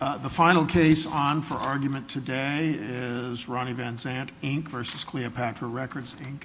The final case on for argument today is Ronnie Van Zant, Inc. v. Cleopatra Records, Inc.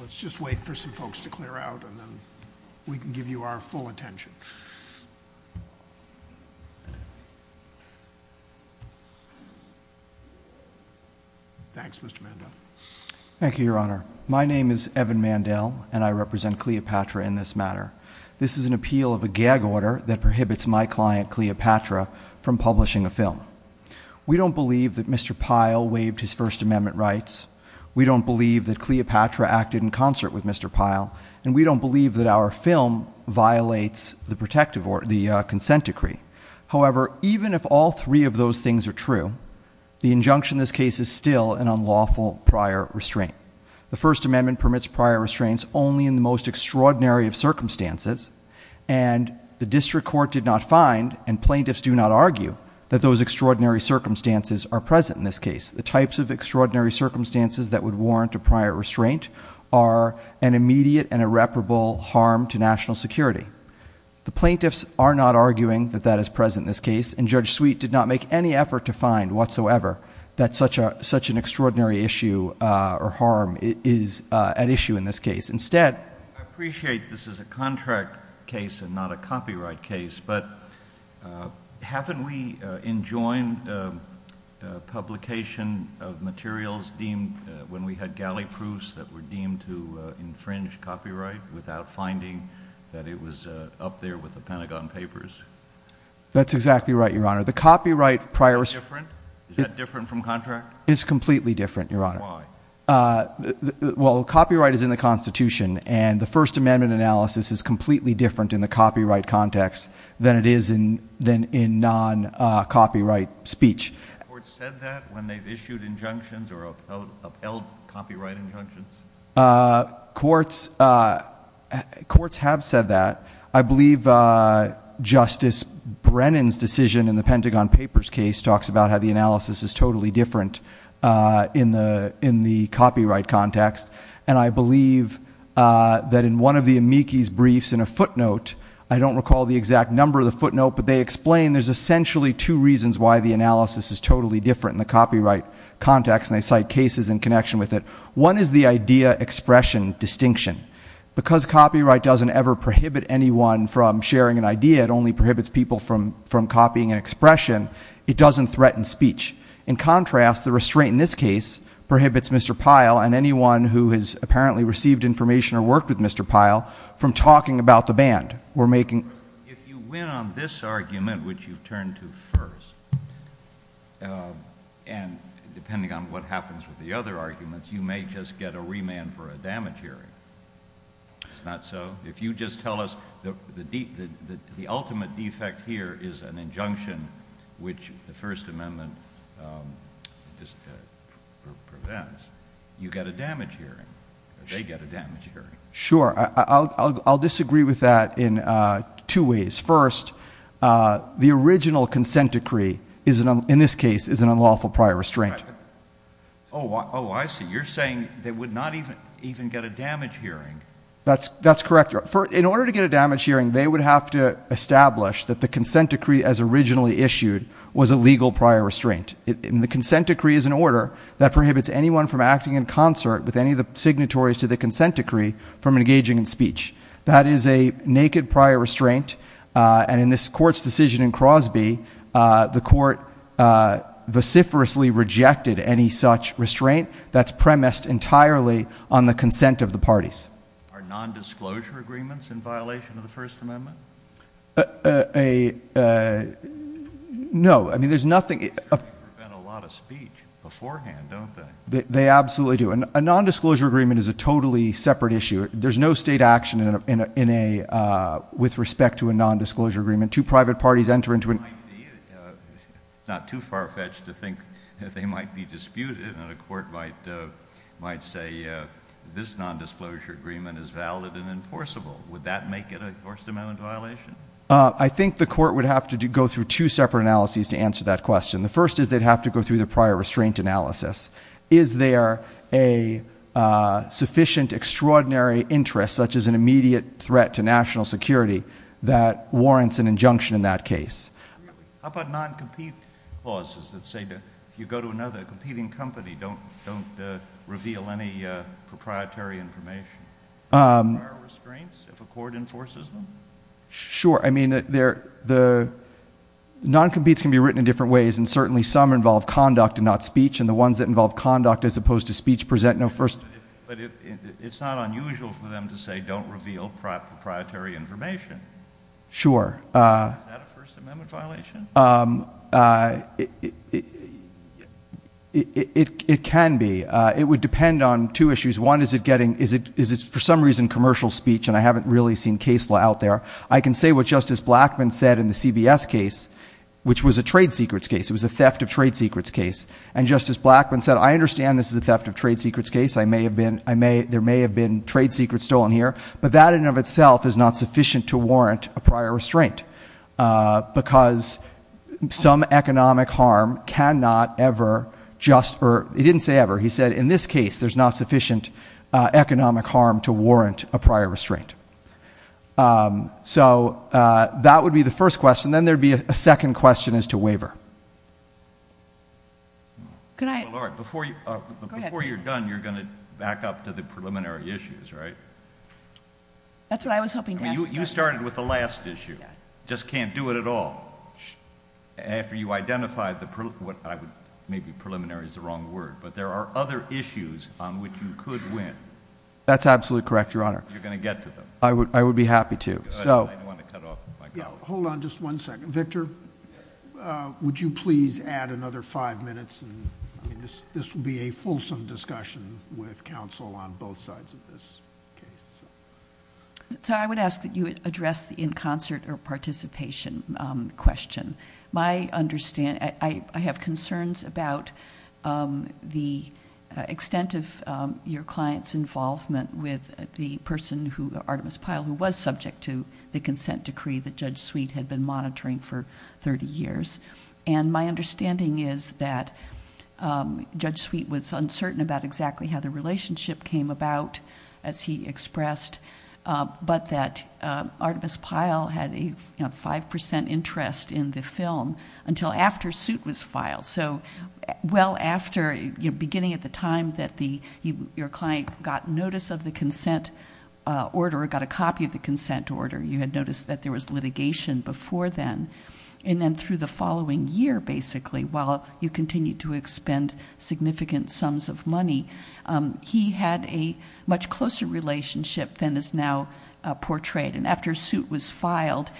Let's just wait for some folks to clear out, and then we can give you our full attention. Thanks, Mr. Mandel. Thank you, Your Honor. My name is Evan Mandel, and I represent Cleopatra in this matter. This is an appeal of a gag order that prohibits my client, Cleopatra, from publishing a film. We don't believe that Mr. Pyle waived his First Amendment rights. We don't believe that Cleopatra acted in concert with Mr. Pyle. And we don't believe that our film violates the consent decree. However, even if all three of those things are true, the injunction in this case is still an unlawful prior restraint. The First Amendment permits prior restraints only in the most extraordinary of circumstances. And the district court did not find, and plaintiffs do not argue, that those extraordinary circumstances are present in this case. The types of extraordinary circumstances that would warrant a prior restraint are an immediate and irreparable harm to national security. The plaintiffs are not arguing that that is present in this case, and Judge Sweet did not make any effort to find whatsoever that such an extraordinary issue or harm is at issue in this case. Instead— I appreciate this is a contract case and not a copyright case, but haven't we enjoined the publication of materials deemed— when we had galley proofs that were deemed to infringe copyright without finding that it was up there with the Pentagon Papers? That's exactly right, Your Honor. The copyright prior— Is that different from contract? It's completely different, Your Honor. Why? Well, copyright is in the Constitution, and the First Amendment analysis is completely different in the copyright context than it is in non-copyright speech. Have courts said that when they've issued injunctions or upheld copyright injunctions? Courts have said that. I believe Justice Brennan's decision in the Pentagon Papers case talks about how the analysis is totally different in the copyright context, and I believe that in one of the amici's briefs in a footnote— I don't recall the exact number of the footnote, but they explain there's essentially two reasons why the analysis is totally different in the copyright context, and they cite cases in connection with it. One is the idea-expression distinction. Because copyright doesn't ever prohibit anyone from sharing an idea, it only prohibits people from copying an expression, it doesn't threaten speech. In contrast, the restraint in this case prohibits Mr. Pyle and anyone who has apparently received information or worked with Mr. Pyle from talking about the band. If you win on this argument, which you've turned to first, and depending on what happens with the other arguments, you may just get a remand for a damage hearing. It's not so. If you just tell us the ultimate defect here is an injunction, which the First Amendment prevents, you get a damage hearing. They get a damage hearing. Sure. I'll disagree with that in two ways. First, the original consent decree in this case is an unlawful prior restraint. Oh, I see. You're saying they would not even get a damage hearing. That's correct. In order to get a damage hearing, they would have to establish that the consent decree as originally issued was a legal prior restraint. And the consent decree is an order that prohibits anyone from acting in concert with any of the signatories to the consent decree from engaging in speech. That is a naked prior restraint. And in this court's decision in Crosby, the court vociferously rejected any such restraint. That's premised entirely on the consent of the parties. Are nondisclosure agreements in violation of the First Amendment? No. I mean, there's nothing – They prevent a lot of speech beforehand, don't they? They absolutely do. A nondisclosure agreement is a totally separate issue. There's no state action with respect to a nondisclosure agreement. Two private parties enter into a – It's not too far-fetched to think that they might be disputed and a court might say this nondisclosure agreement is valid and enforceable. Would that make it a First Amendment violation? I think the court would have to go through two separate analyses to answer that question. The first is they'd have to go through the prior restraint analysis. Is there a sufficient extraordinary interest, such as an immediate threat to national security, that warrants an injunction in that case? How about noncompete clauses that say if you go to another competing company, don't reveal any proprietary information? Are there restraints if a court enforces them? Sure. I mean, the noncompetes can be written in different ways, and certainly some involve conduct and not speech, and the ones that involve conduct as opposed to speech present no first – But it's not unusual for them to say don't reveal proprietary information. Sure. Is that a First Amendment violation? It can be. It would depend on two issues. One is it's, for some reason, commercial speech, and I haven't really seen case law out there. I can say what Justice Blackmun said in the CBS case, which was a trade secrets case. It was a theft of trade secrets case. And Justice Blackmun said, I understand this is a theft of trade secrets case. There may have been trade secrets stolen here, but that in and of itself is not sufficient to warrant a prior restraint because some economic harm cannot ever just – or he didn't say ever. He said in this case there's not sufficient economic harm to warrant a prior restraint. So that would be the first question. Then there would be a second question as to waiver. Before you're done, you're going to back up to the preliminary issues, right? That's what I was hoping to ask. You started with the last issue. Just can't do it at all. After you identify the – maybe preliminary is the wrong word, but there are other issues on which you could win. That's absolutely correct, Your Honor. You're going to get to them. I would be happy to. Hold on just one second. Victor, would you please add another five minutes? This will be a fulsome discussion with counsel on both sides of this case. I would ask that you address the in concert or participation question. I have concerns about the extent of your client's involvement with the person, Artemis Pyle, who was subject to the consent decree that Judge Sweet had been monitoring for 30 years. My understanding is that Judge Sweet was uncertain about exactly how the relationship came about. As he expressed, but that Artemis Pyle had a 5% interest in the film until after suit was filed. So well after, beginning at the time that your client got notice of the consent order, got a copy of the consent order, you had noticed that there was litigation before then. And then through the following year, basically, while you continued to expend significant sums of money, he had a much closer relationship than is now portrayed. And after suit was filed,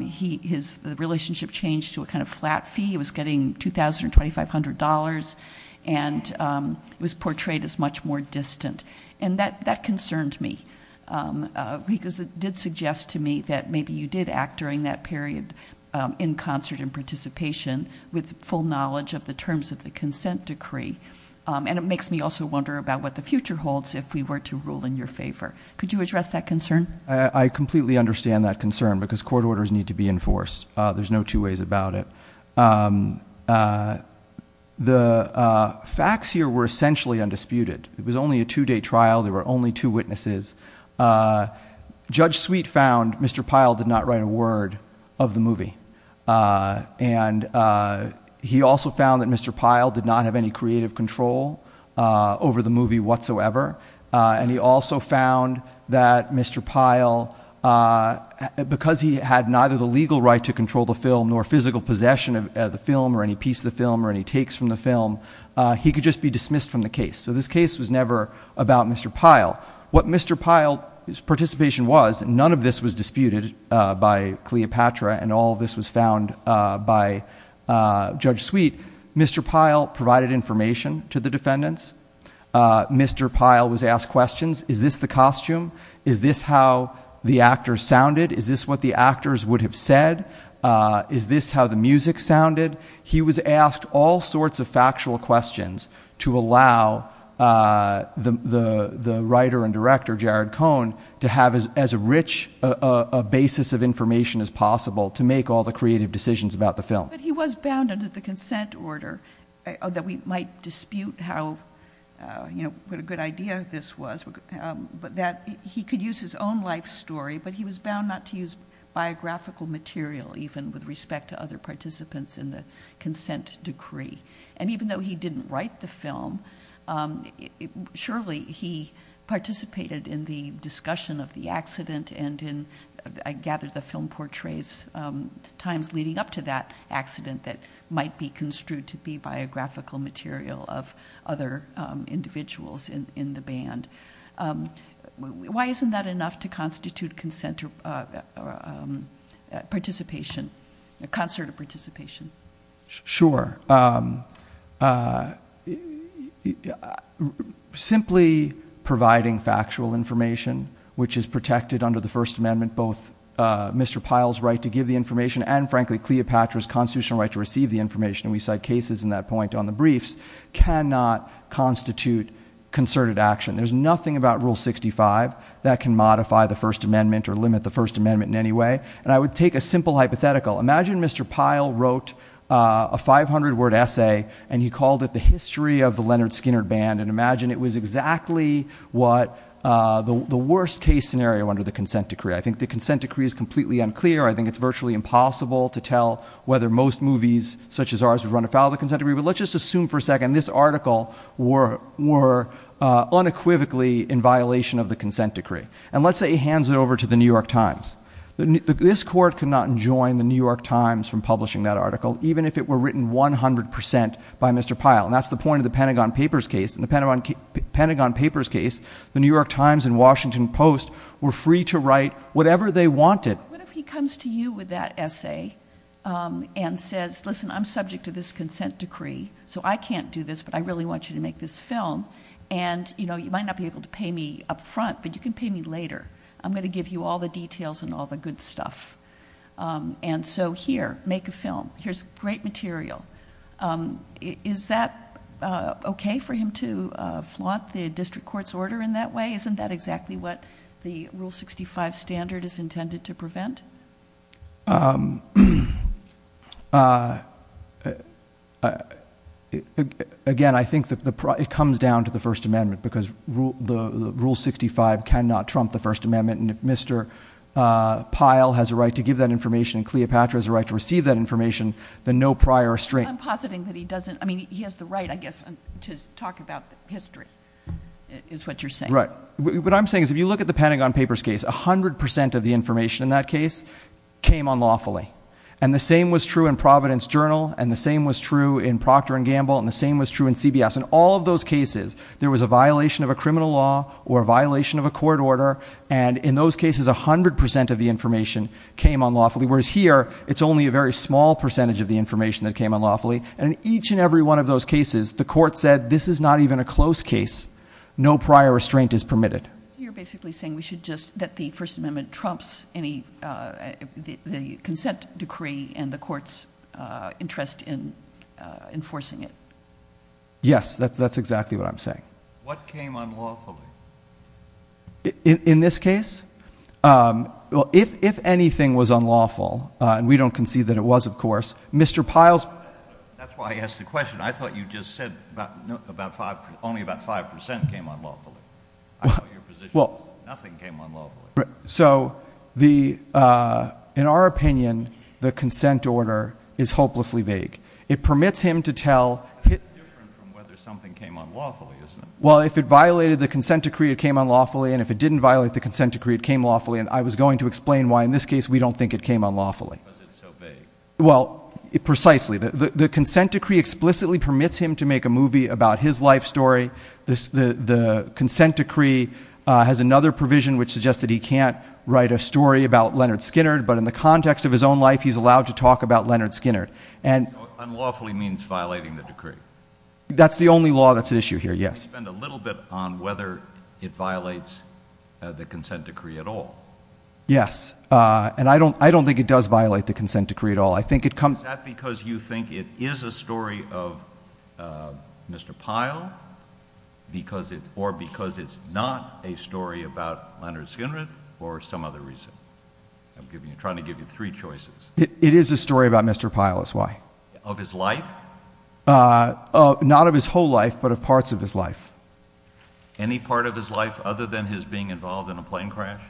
his relationship changed to a kind of flat fee. He was getting $2,000 or $2,500 and was portrayed as much more distant. And that concerned me because it did suggest to me that maybe you did act during that period in concert and participation with full knowledge of the terms of the consent decree. And it makes me also wonder about what the future holds if we were to rule in your favor. Could you address that concern? I completely understand that concern because court orders need to be enforced. There's no two ways about it. The facts here were essentially undisputed. It was only a two-day trial. There were only two witnesses. And he also found that Mr. Pyle did not have any creative control over the movie whatsoever. And he also found that Mr. Pyle, because he had neither the legal right to control the film nor physical possession of the film or any piece of the film or any takes from the film, he could just be dismissed from the case. So this case was never about Mr. Pyle. What Mr. Pyle's participation was, none of this was disputed by Cleopatra and all of this was found by Judge Sweet. Mr. Pyle provided information to the defendants. Mr. Pyle was asked questions. Is this the costume? Is this how the actors sounded? Is this what the actors would have said? Is this how the music sounded? He was asked all sorts of factual questions to allow the writer and director, Jared Cohn, to have as rich a basis of information as possible to make all the creative decisions about the film. But he was bound under the consent order, that we might dispute what a good idea this was, that he could use his own life story, but he was bound not to use biographical material even with respect to other participants in the consent decree. And even though he didn't write the film, surely he participated in the discussion of the accident and I gather the film portrays times leading up to that accident that might be construed to be biographical material of other individuals in the band. Why isn't that enough to constitute concert participation? Sure. Simply providing factual information, which is protected under the First Amendment, both Mr. Pyle's right to give the information and frankly, Cleopatra's constitutional right to receive the information, and we cite cases in that point on the briefs, cannot constitute concerted action. There's nothing about Rule 65 that can modify the First Amendment or limit the First Amendment in any way. And I would take a simple hypothetical. Imagine Mr. Pyle wrote a 500-word essay and he called it the history of the Leonard Skinner band and imagine it was exactly the worst case scenario under the consent decree. I think the consent decree is completely unclear. I think it's virtually impossible to tell whether most movies such as ours would run afoul of the consent decree, but let's just assume for a second this article were unequivocally in violation of the consent decree. And let's say he hands it over to the New York Times. This court could not enjoin the New York Times from publishing that article, even if it were written 100% by Mr. Pyle. And that's the point of the Pentagon Papers case. In the Pentagon Papers case, the New York Times and Washington Post were free to write whatever they wanted. What if he comes to you with that essay and says, listen, I'm subject to this consent decree, so I can't do this, but I really want you to make this film. And you might not be able to pay me up front, but you can pay me later. I'm going to give you all the details and all the good stuff. And so here, make a film. Here's great material. Is that okay for him to flaunt the district court's order in that way? Isn't that exactly what the Rule 65 standard is intended to prevent? Again, I think it comes down to the First Amendment, because the Rule 65 cannot trump the First Amendment. And if Mr. Pyle has a right to give that information and Cleopatra has a right to receive that information, then no prior restraint. I'm positing that he doesn't. I mean, he has the right, I guess, to talk about history, is what you're saying. Right. What I'm saying is if you look at the Pentagon Papers case, 100% of the information in that case, came unlawfully. And the same was true in Providence Journal. And the same was true in Procter & Gamble. And the same was true in CBS. In all of those cases, there was a violation of a criminal law or a violation of a court order. And in those cases, 100% of the information came unlawfully. Whereas here, it's only a very small percentage of the information that came unlawfully. And in each and every one of those cases, the court said, this is not even a close case. No prior restraint is permitted. You're basically saying we should just let the First Amendment trumps the consent decree and the court's interest in enforcing it. Yes, that's exactly what I'm saying. What came unlawfully? In this case? Well, if anything was unlawful, and we don't concede that it was, of course, Mr. Pyle's... So, in our opinion, the consent order is hopelessly vague. It permits him to tell... Well, if it violated the consent decree, it came unlawfully. And if it didn't violate the consent decree, it came unlawfully. And I was going to explain why, in this case, we don't think it came unlawfully. Well, precisely. The consent decree explicitly permits him to make a movie about his life story. The consent decree has another provision, which suggests that he can't write a story about Leonard Skinner, but in the context of his own life, he's allowed to talk about Leonard Skinner. Unlawfully means violating the decree. That's the only law that's at issue here, yes. You spend a little bit on whether it violates the consent decree at all. Yes. And I don't think it does violate the consent decree at all. Is that because you think it is a story of Mr. Pyle, or because it's not a story about Leonard Skinner, or some other reason? I'm trying to give you three choices. It is a story about Mr. Pyle, is why. Of his life? Not of his whole life, but of parts of his life. Any part of his life other than his being involved in a plane crash?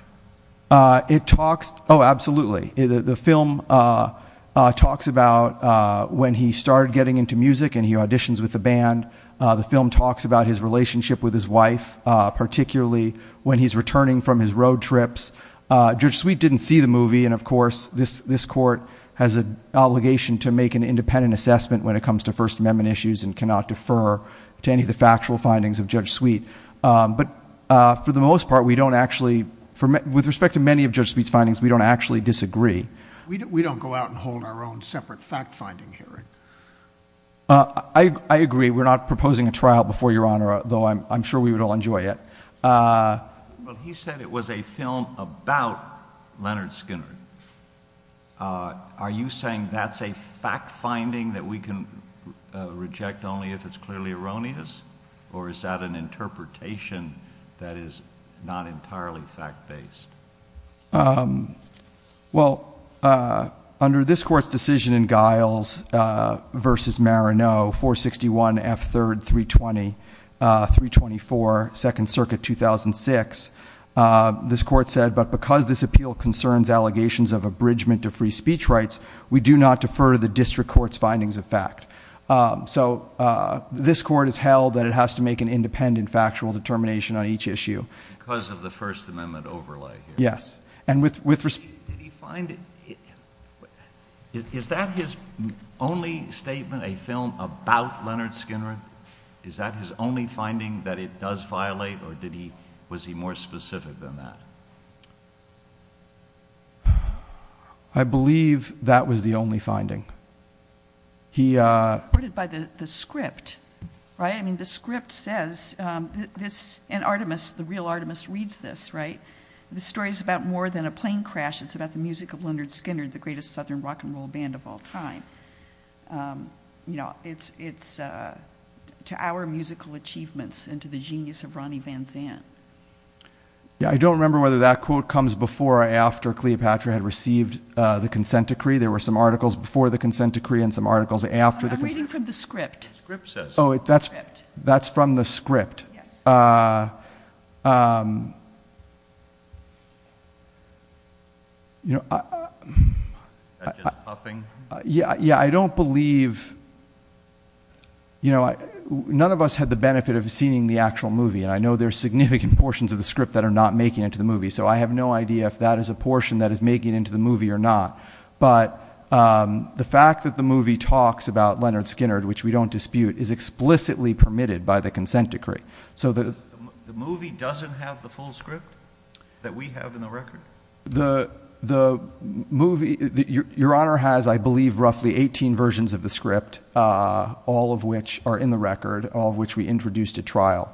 Oh, absolutely. The film talks about when he started getting into music and he auditions with a band. The film talks about his relationship with his wife, particularly when he's returning from his road trips. Judge Sweet didn't see the movie, and of course, this court has an obligation to make an independent assessment when it comes to First Amendment issues and cannot defer to any of the factual findings of Judge Sweet. But for the most part, with respect to many of Judge Sweet's findings, we don't actually disagree. We don't go out and hold our own separate fact-finding hearing. I agree. We're not proposing a trial before Your Honor, though I'm sure we would all enjoy it. Well, he said it was a film about Leonard Skinner. Are you saying that's a fact-finding that we can reject only if it's clearly erroneous, or is that an interpretation that is not entirely fact-based? Well, under this Court's decision in Giles v. Marano, 461 F. 3rd, 324, 2nd Circuit, 2006, this Court said, but because this appeal concerns allegations of abridgment of free speech rights, we do not defer to the District Court's findings of fact. So this Court has held that it has to make an independent factual determination on each issue. Because of the First Amendment overlay? Yes. Did he find it? Is that his only statement, a film about Leonard Skinner? Is that his only finding that it does violate, or was he more specific than that? I believe that was the only finding. It's supported by the script, right? I mean, the script says, and Artemis, the real Artemis, reads this, right? The story's about more than a plane crash. It's about the music of Leonard Skinner, the greatest Southern rock and roll band of all time. It's to our musical achievements and to the genius of Ronnie Van Zandt. Yeah, I don't remember whether that quote comes before or after Cleopatra had received the consent decree. There were some articles before the consent decree and some articles after the consent decree. I'm reading from the script. Oh, that's from the script. Yeah, I don't believe, you know, none of us had the benefit of seeing the actual movie, and I know there's significant portions of the script that are not making it into the movie, so I have no idea if that is a portion that is making it into the movie or not. But the fact that the movie talks about Leonard Skinner, which we don't dispute, is explicitly permitted by the consent decree. So the movie doesn't have the full script that we have in the record? The movie, Your Honor, has, I believe, roughly 18 versions of the script, all of which are in the record, all of which we introduced at trial.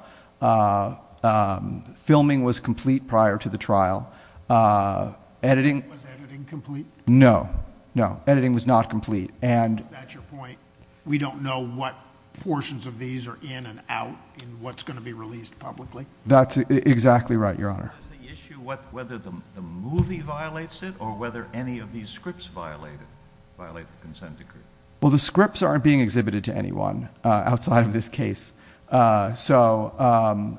Filming was complete prior to the trial. Was editing complete? No, no, editing was not complete. At your point, we don't know what portions of these are in and out and what's going to be released publicly? That's exactly right, Your Honor. Is the issue whether the movie violates it or whether any of these scripts violate the consent decree? Well, the scripts aren't being exhibited to anyone outside of this case, so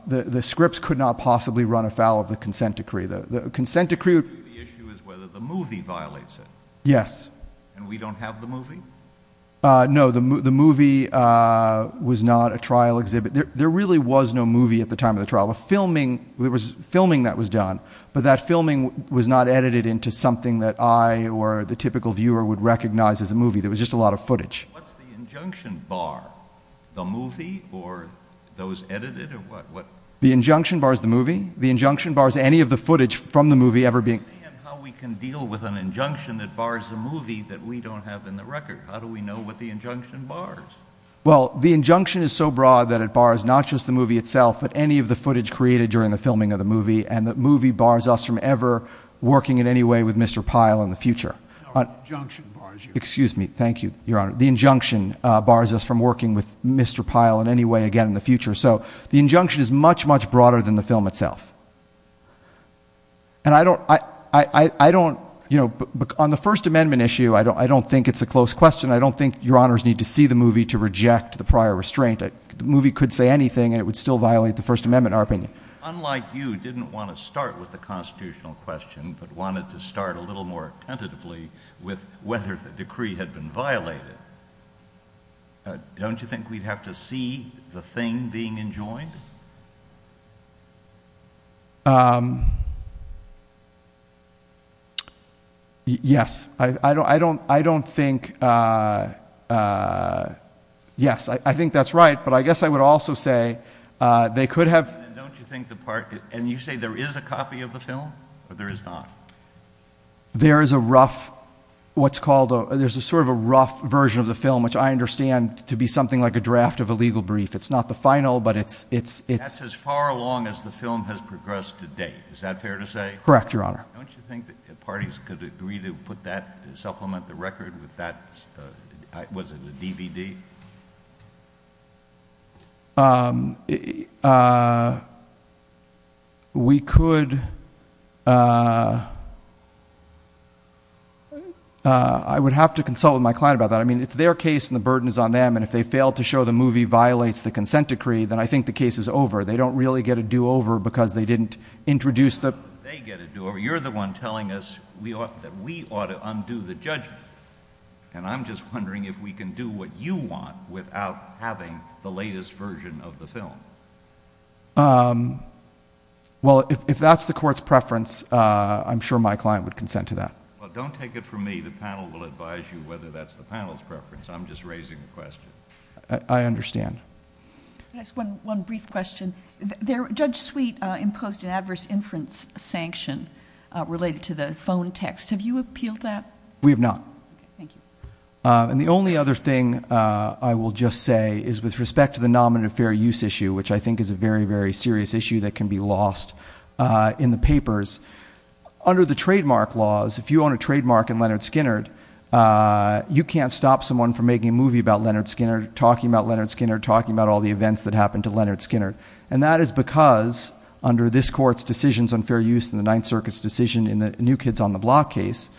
the scripts could not possibly run afoul of the consent decree. The issue is whether the movie violates it. Yes. And we don't have the movie? No, the movie was not a trial exhibit. There really was no movie at the time of the trial. There was filming that was done, but that filming was not edited into something that I or the typical viewer would recognize as a movie. There was just a lot of footage. What's the injunction bar? The movie or those edited or what? The injunction bar is the movie. The injunction bar is any of the footage from the movie ever being— How can we deal with an injunction that bars the movie that we don't have in the record? How do we know what the injunction bars? Well, the injunction is so broad that it bars not just the movie itself but any of the footage created during the filming of the movie, and the movie bars us from ever working in any way with Mr. Pyle in the future. No, the injunction bars you. Excuse me. Thank you, Your Honor. The injunction bars us from working with Mr. Pyle in any way again in the future. So the injunction is much, much broader than the film itself. And I don't—you know, on the First Amendment issue, I don't think it's a close question. I don't think Your Honors need to see the movie to reject the prior restraint. The movie could say anything, and it would still violate the First Amendment, in our opinion. Unlike you, who didn't want to start with the constitutional question but wanted to start a little more attentively with whether the decree had been violated. Don't you think we'd have to see the thing being enjoined? Yes, I don't think—yes, I think that's right. But I guess I would also say they could have— And you say there is a copy of the film, or there is not? There is a rough—what's called a—there's a sort of a rough version of the film, which I understand to be something like a draft of a legal brief. It's not the final, but it's— That's as far along as the film has progressed to date. Is that fair to say? Correct, Your Honor. Don't you think that parties could agree to put that—supplement the record with that—was it a DVD? We could—I would have to consult with my client about that. I mean, it's their case, and the burden is on them. And if they fail to show the movie violates the consent decree, then I think the case is over. They don't really get a do-over because they didn't introduce the— They get a do-over. You're the one telling us that we ought to undo the judgment. And I'm just wondering if we can do what you want without having the latest version of the film. Well, if that's the court's preference, I'm sure my client would consent to that. Well, don't take it from me. The panel will advise you whether that's the panel's preference. I'm just raising a question. I understand. Just one brief question. Judge Sweet imposed an adverse inference sanction related to the phone text. Have you appealed that? We have not. Thank you. And the only other thing I will just say is with respect to the nominative fair use issue, which I think is a very, very serious issue that can be lost in the papers, under the trademark laws, if you own a trademark in Leonard Skinner, you can't stop someone from making a movie about Leonard Skinner, talking about Leonard Skinner, talking about all the events that happened to Leonard Skinner. And that is because under this court's decisions on fair use in the Ninth Circuit's decision in the New Kids on the Block case,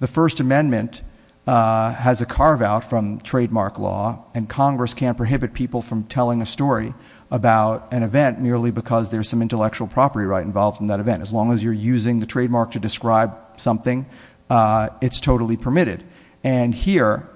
the First Amendment has a carve-out from trademark law, and Congress can't prohibit people from telling a story about an event merely because there's some intellectual property right involved in that event. As long as you're using the trademark to describe something, it's totally permitted. And here,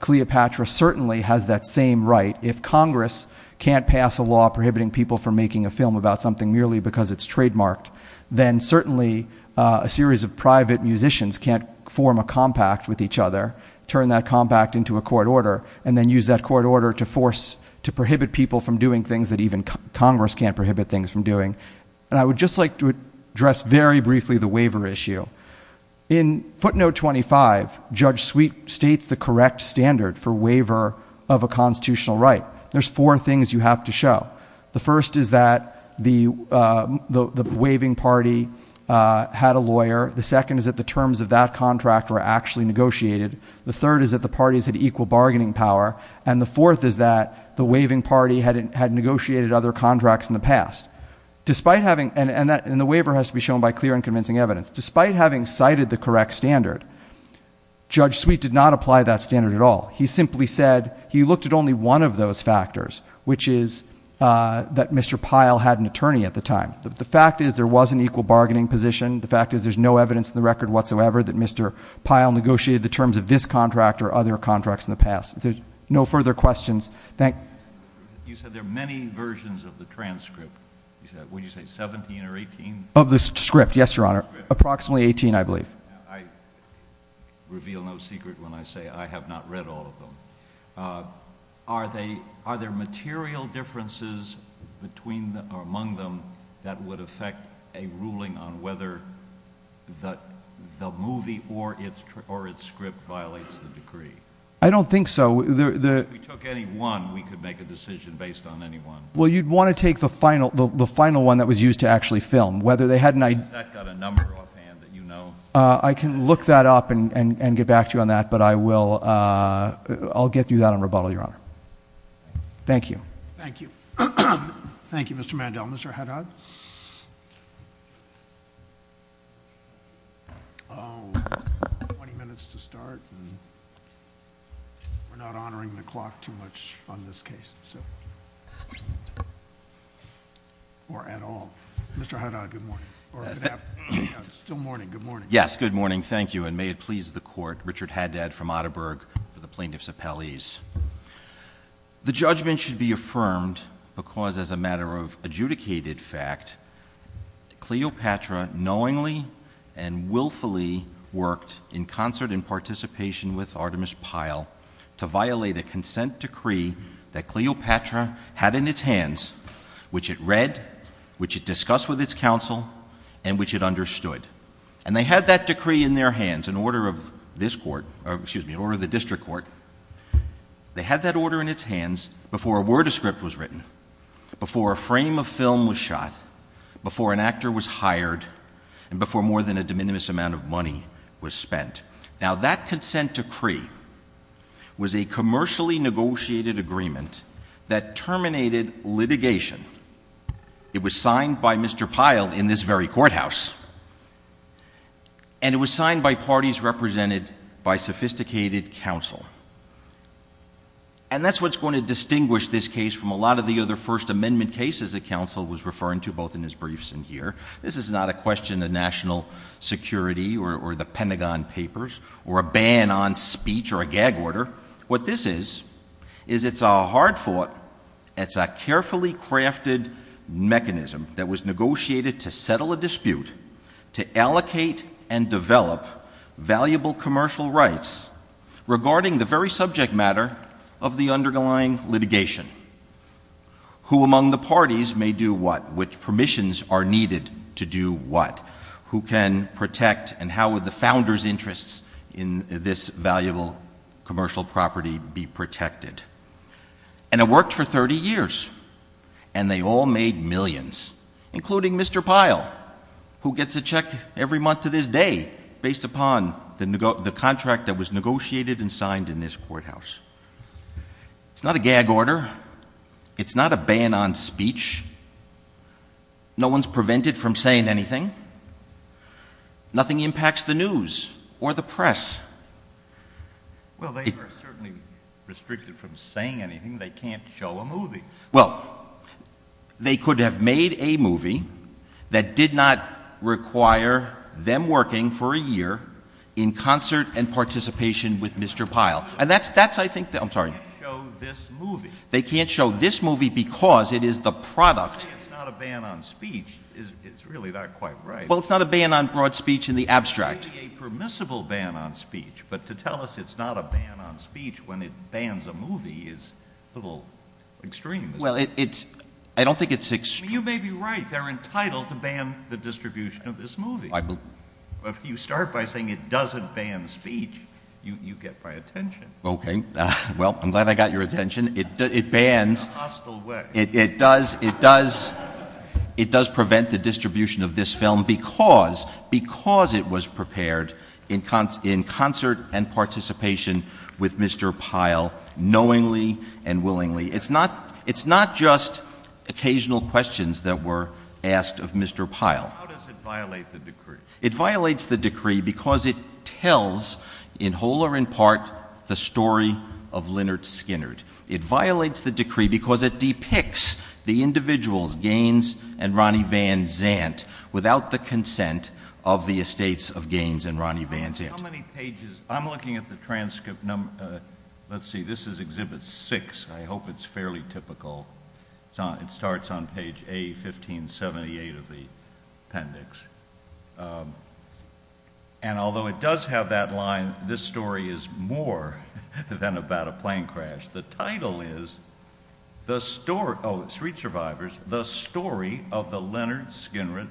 Cleopatra certainly has that same right. If Congress can't pass a law prohibiting people from making a film about something merely because it's trademarked, then certainly a series of private musicians can't form a compact with each other, turn that compact into a court order, and then use that court order to force, to prohibit people from doing things that even Congress can't prohibit things from doing. And I would just like to address very briefly the waiver issue. In footnote 25, Judge Sweet states the correct standard for waiver of a constitutional right. There's four things you have to show. The first is that the waiving party had a lawyer. The second is that the terms of that contract were actually negotiated. The third is that the parties had equal bargaining power. And the fourth is that the waiving party had negotiated other contracts in the past. And the waiver has to be shown by clear and convincing evidence. Despite having cited the correct standard, Judge Sweet did not apply that standard at all. He simply said he looked at only one of those factors, which is that Mr. Pyle had an attorney at the time. The fact is there was an equal bargaining position. The fact is there's no evidence in the record whatsoever that Mr. Pyle negotiated the terms of this contract or other contracts in the past. If there's no further questions, thank you. You said there are many versions of the transcript. Will you say 17 or 18? Of the script, yes, Your Honor. Approximately 18, I believe. I reveal no secret when I say I have not read all of them. Are there material differences among them that would affect a ruling on whether the movie or its script violates the decree? I don't think so. If we took any one, we could make a decision based on any one. Well, you'd want to take the final one that was used to actually film. I can look that up and get back to you on that, but I'll get you that on rebuttal, Your Honor. Thank you. Thank you. Thank you, Mr. Mandel. Mr. Haddad? 20 minutes to start, and we're not honoring the clock too much on this case, or at all. Mr. Haddad, good morning, or good afternoon. It's still morning. Good morning. Yes, good morning. Thank you, and may it please the Court, Richard Haddad from Atterberg for the plaintiffs' appellees. The judgment should be affirmed because, as a matter of adjudicated fact, Cleopatra knowingly and willfully worked, in concert and participation with Artemis Pyle, to violate a consent decree that Cleopatra had in its hands, which it read, which it discussed with its counsel, and which it understood. And they had that decree in their hands in order of this Court, or excuse me, in order of the District Court. They had that order in its hands before a word of script was written, before a frame of film was shot, before an actor was hired, and before more than a de minimis amount of money was spent. Now, that consent decree was a commercially negotiated agreement that terminated litigation. It was signed by Mr. Pyle in this very courthouse. And it was signed by parties represented by sophisticated counsel. And that's what's going to distinguish this case from a lot of the other First Amendment cases that counsel was referring to both in his briefs and here. This is not a question of national security or the Pentagon Papers or a ban on speech or a gag order. What this is, is it's a hard-fought, it's a carefully crafted mechanism that was negotiated to settle a dispute, to allocate and develop valuable commercial rights regarding the very subject matter of the underlying litigation. Who among the parties may do what? Which permissions are needed to do what? Who can protect and how would the founders' interests in this valuable commercial property be protected? And it worked for 30 years, and they all made millions, including Mr. Pyle, who gets a check every month of his day based upon the contract that was negotiated and signed in this courthouse. It's not a gag order. It's not a ban on speech. No one's prevented from saying anything. Nothing impacts the news or the press. Well, they were certainly restricted from saying anything. They can't show a movie. Well, they could have made a movie that did not require them working for a year in concert and participation with Mr. Pyle. And that's, I think, I'm sorry. They can't show this movie. It's not a ban on speech. It's really not quite right. Well, it's not a ban on broad speech in the abstract. It may be a permissible ban on speech, but to tell us it's not a ban on speech when it bans a movie is a little extreme. Well, I don't think it's extreme. You may be right. They're entitled to ban the distribution of this movie. But if you start by saying it doesn't ban speech, you get my attention. Okay. Well, I'm glad I got your attention. It bans. Hostile words. It does prevent the distribution of this film because it was prepared in concert and participation with Mr. Pyle knowingly and willingly. It's not just occasional questions that were asked of Mr. Pyle. How does it violate the decree? It violates the decree because it tells, in whole or in part, the story of Lynyrd Skynyrd. It violates the decree because it depicts the individuals, Gaines and Ronnie Van Zandt, without the consent of the estates of Gaines and Ronnie Van Zandt. How many pages? I'm looking at the transcript. Let's see. This is Exhibit 6. I hope it's fairly typical. It starts on page A1578 of the appendix. And although it does have that line, this story is more than about a plane crash. The title is The Story of the Lynyrd Skynyrd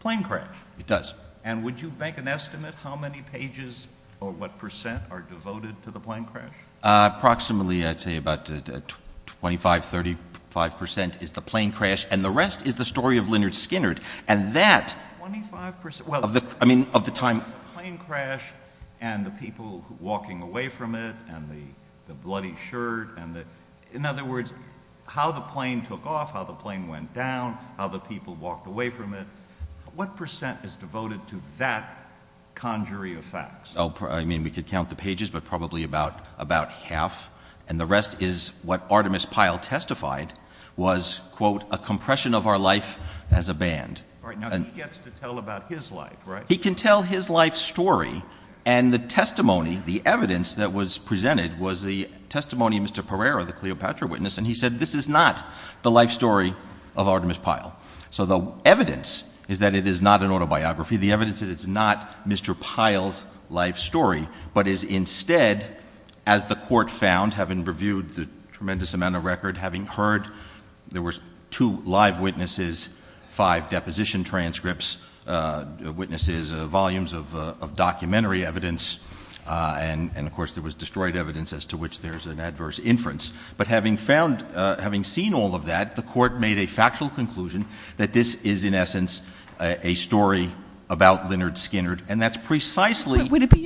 Plane Crash. It does. And would you make an estimate how many pages or what percent are devoted to the plane crash? Approximately, I'd say about 25-35% is the plane crash, and the rest is the story of Lynyrd Skynyrd. And that... 25%? Well, I mean, of the time... The plane crash and the people walking away from it and the bloody shirt and the... In other words, how the plane took off, how the plane went down, how the people walked away from it. What percent is devoted to that conjury of facts? I mean, we could count the pages, but probably about half. And the rest is what Artemis Pyle testified was, quote, a compression of our life as a band. Right. Now, he gets to tell about his life, right? He can tell his life story. And the testimony, the evidence that was presented was the testimony of Mr. Pereira, the Cleopatra witness. And he said this is not the life story of Artemis Pyle. So the evidence is that it is not an autobiography. The evidence is it's not Mr. Pyle's life story, but is instead, as the court found, having reviewed the tremendous amount of record, having heard there were two live witnesses, five deposition transcripts, witnesses, volumes of documentary evidence, and, of course, there was destroyed evidence as to which there is an adverse inference. But having found, having seen all of that, the court made a factual conclusion that this is, in essence, a story about Lynyrd Skynyrd. And that's precisely. Would it be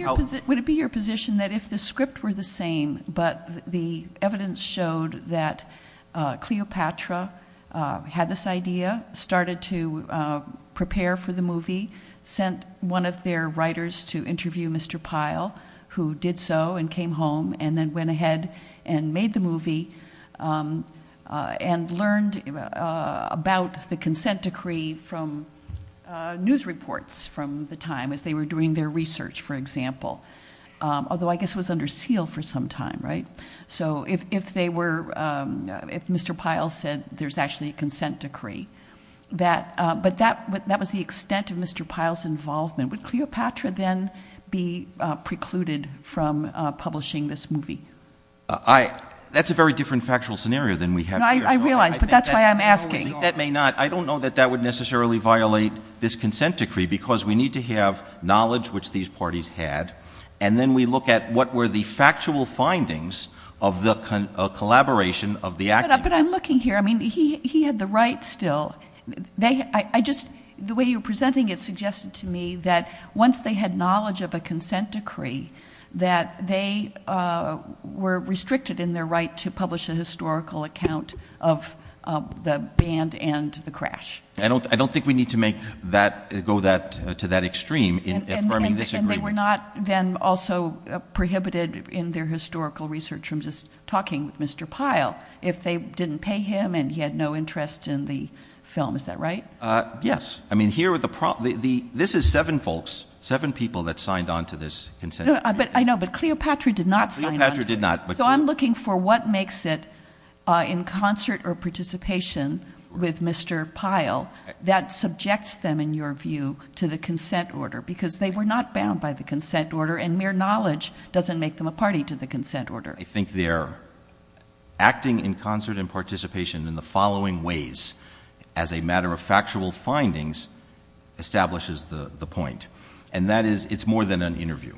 your position that if the script were the same, but the evidence showed that Cleopatra had this idea, started to prepare for the movie, sent one of their writers to interview Mr. Pyle, who did so and came home and then went ahead and made the movie and learned about the consent decree from news reports from the time, if they were doing their research, for example, although I guess it was under seal for some time, right? So if they were, if Mr. Pyle said there's actually a consent decree, that, but that was the extent of Mr. Pyle's involvement. Would Cleopatra then be precluded from publishing this movie? That's a very different factual scenario than we have here. I realize, but that's why I'm asking. That may not, I don't know that that would necessarily violate this consent decree, because we need to have knowledge which these parties had, and then we look at what were the factual findings of the collaboration of the activists. But I'm looking here, I mean, he had the right still. I just, the way you're presenting it suggested to me that once they had knowledge of a consent decree, that they were restricted in their right to publish a historical account of the band and the crash. I don't think we need to make that go to that extreme. And they were not then also prohibited in their historical research from just talking with Mr. Pyle, if they didn't pay him and he had no interest in the film. Is that right? Yes. I mean, here are the, this is seven folks, seven people that signed on to this consent decree. I know, but Cleopatra did not sign on. Cleopatra did not. So I'm looking for what makes it in concert or participation with Mr. Pyle that subjects them, in your view, to the consent order, because they were not bound by the consent order, and mere knowledge doesn't make them a party to the consent order. I think their acting in concert and participation in the following ways, as a matter of factual findings, establishes the point. And that is, it's more than an interview.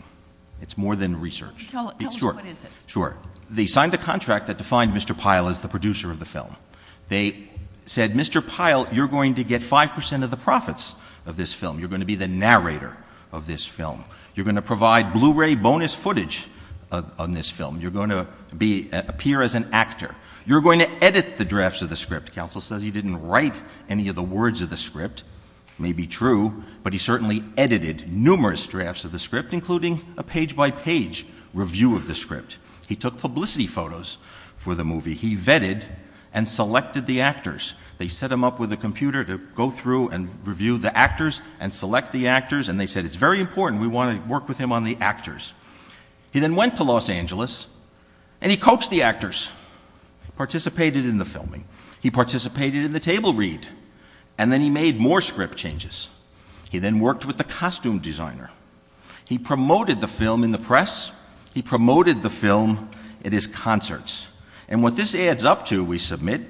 It's more than research. Tell me what it is. Sure. They signed a contract that defined Mr. Pyle as the producer of the film. They said, Mr. Pyle, you're going to get 5% of the profits of this film. You're going to be the narrator of this film. You're going to provide Blu-ray bonus footage on this film. You're going to appear as an actor. You're going to edit the drafts of the script. Counsel says he didn't write any of the words of the script. It may be true, but he certainly edited numerous drafts of the script, including a page-by-page review of the script. He took publicity photos for the movie. He vetted and selected the actors. They set him up with a computer to go through and review the actors and select the actors, and they said, it's very important. We want to work with him on the actors. He then went to Los Angeles, and he coached the actors, participated in the filming. He participated in the table read, and then he made more script changes. He then worked with the costume designer. He promoted the film in the press. He promoted the film at his concerts. And what this adds up to, we submit,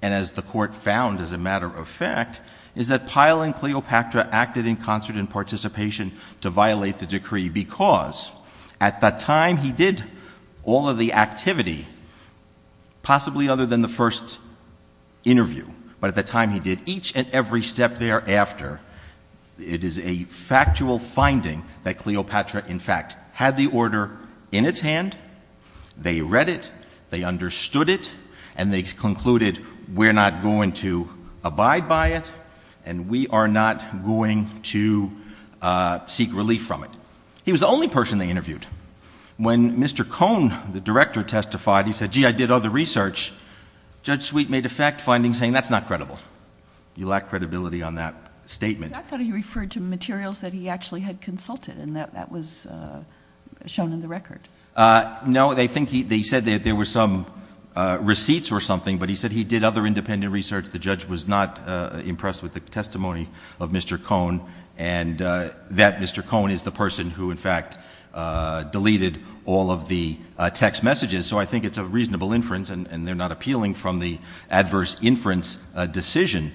and as the court found as a matter of fact, is that Pyle and Cleopatra acted in concert and participation to violate the decree because at the time he did all of the activity, possibly other than the first interview, but at the time he did each and every step thereafter. It is a factual finding that Cleopatra, in fact, had the order in his hand. They read it. They understood it. And they concluded, we're not going to abide by it, and we are not going to seek relief from it. He was the only person they interviewed. When Mr. Cohn, the director, testified, he said, gee, I did all the research, Judge Sweet made a fact finding saying that's not credible. You lack credibility on that statement. I thought he referred to materials that he actually had consulted, and that was shown in the record. No, they said there were some receipts or something, but he said he did other independent research. The judge was not impressed with the testimony of Mr. Cohn, and that Mr. Cohn is the person who, in fact, deleted all of the text messages. So I think it's a reasonable inference, and they're not appealing from the adverse inference decision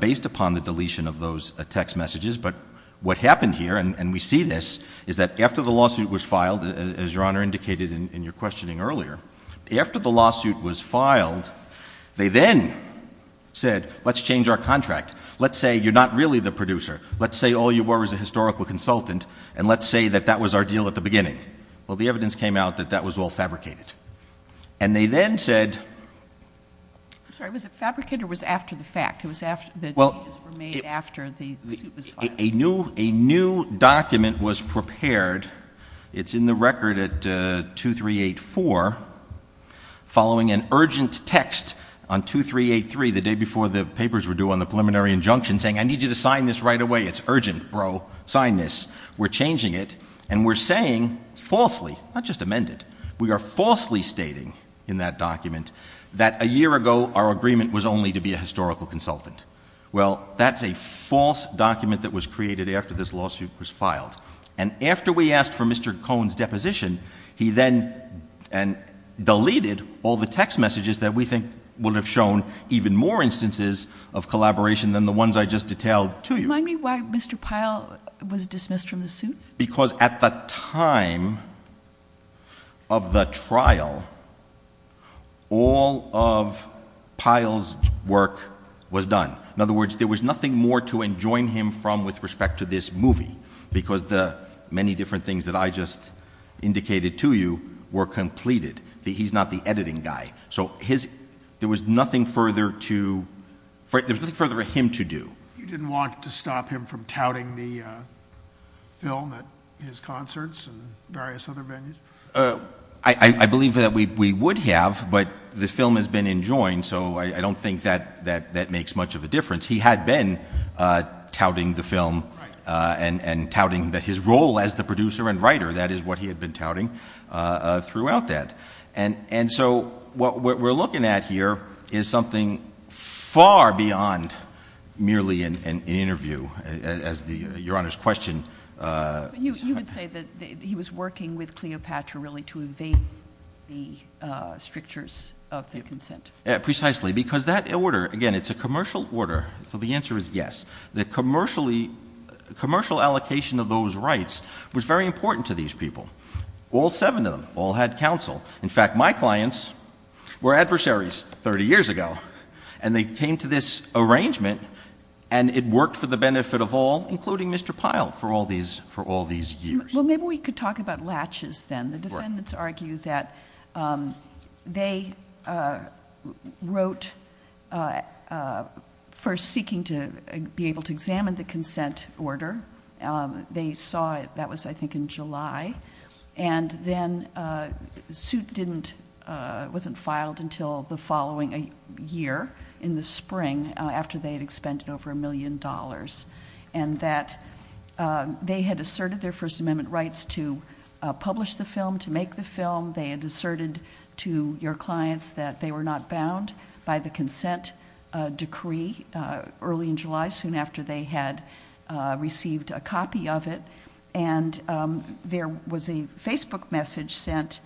based upon the deletion of those text messages. But what happened here, and we see this, is that after the lawsuit was filed, as Your Honor indicated in your questioning earlier, after the lawsuit was filed, they then said, let's change our contract. Let's say you're not really the producer. Let's say all you were was a historical consultant, and let's say that that was our deal at the beginning. Well, the evidence came out that that was all fabricated. And they then said — a new document was prepared. It's in the record at 2384, following an urgent text on 2383, the day before the papers were due on the preliminary injunction, saying, I need you to sign this right away. It's urgent, bro. Sign this. We're changing it, and we're saying, falsely, not just amended, we are falsely stating in that document that a year ago our agreement was only to be a historical consultant. Well, that's a false document that was created after this lawsuit was filed. And after we asked for Mr. Cohen's deposition, he then deleted all the text messages that we think would have shown even more instances of collaboration than the ones I just detailed to you. Do you mind me asking why Mr. Pyle was dismissed from the suit? Because at the time of the trial, all of Pyle's work was done. In other words, there was nothing more to enjoin him from with respect to this movie because the many different things that I just indicated to you were completed. He's not the editing guy. So there was nothing further to — there was nothing further for him to do. You didn't want to stop him from touting the film at his concerts and various other venues? I believe that we would have, but the film has been enjoined, so I don't think that makes much of a difference. He had been touting the film and touting his role as the producer and writer. That is what he had been touting throughout that. And so what we're looking at here is something far beyond merely an interview, as Your Honor's question — You would say that he was working with Cleopatra really to evade the strictures of the consent? Precisely, because that order — again, it's a commercial order, so the answer is yes. The commercial allocation of those rights was very important to these people. All seven of them all had counsel. In fact, my clients were adversaries 30 years ago, and they came to this arrangement, and it worked for the benefit of all, including Mr. Pyle, for all these years. Well, maybe we could talk about latches then. The defendants argue that they wrote first seeking to be able to examine the consent order. They saw it, I think, in July, and then the suit wasn't filed until the following year, in the spring, after they had expended over a million dollars, and that they had asserted their First Amendment rights to publish the film, to make the film. They had asserted to your clients that they were not bound by the consent decree early in July, soon after they had received a copy of it, and there was a Facebook message sent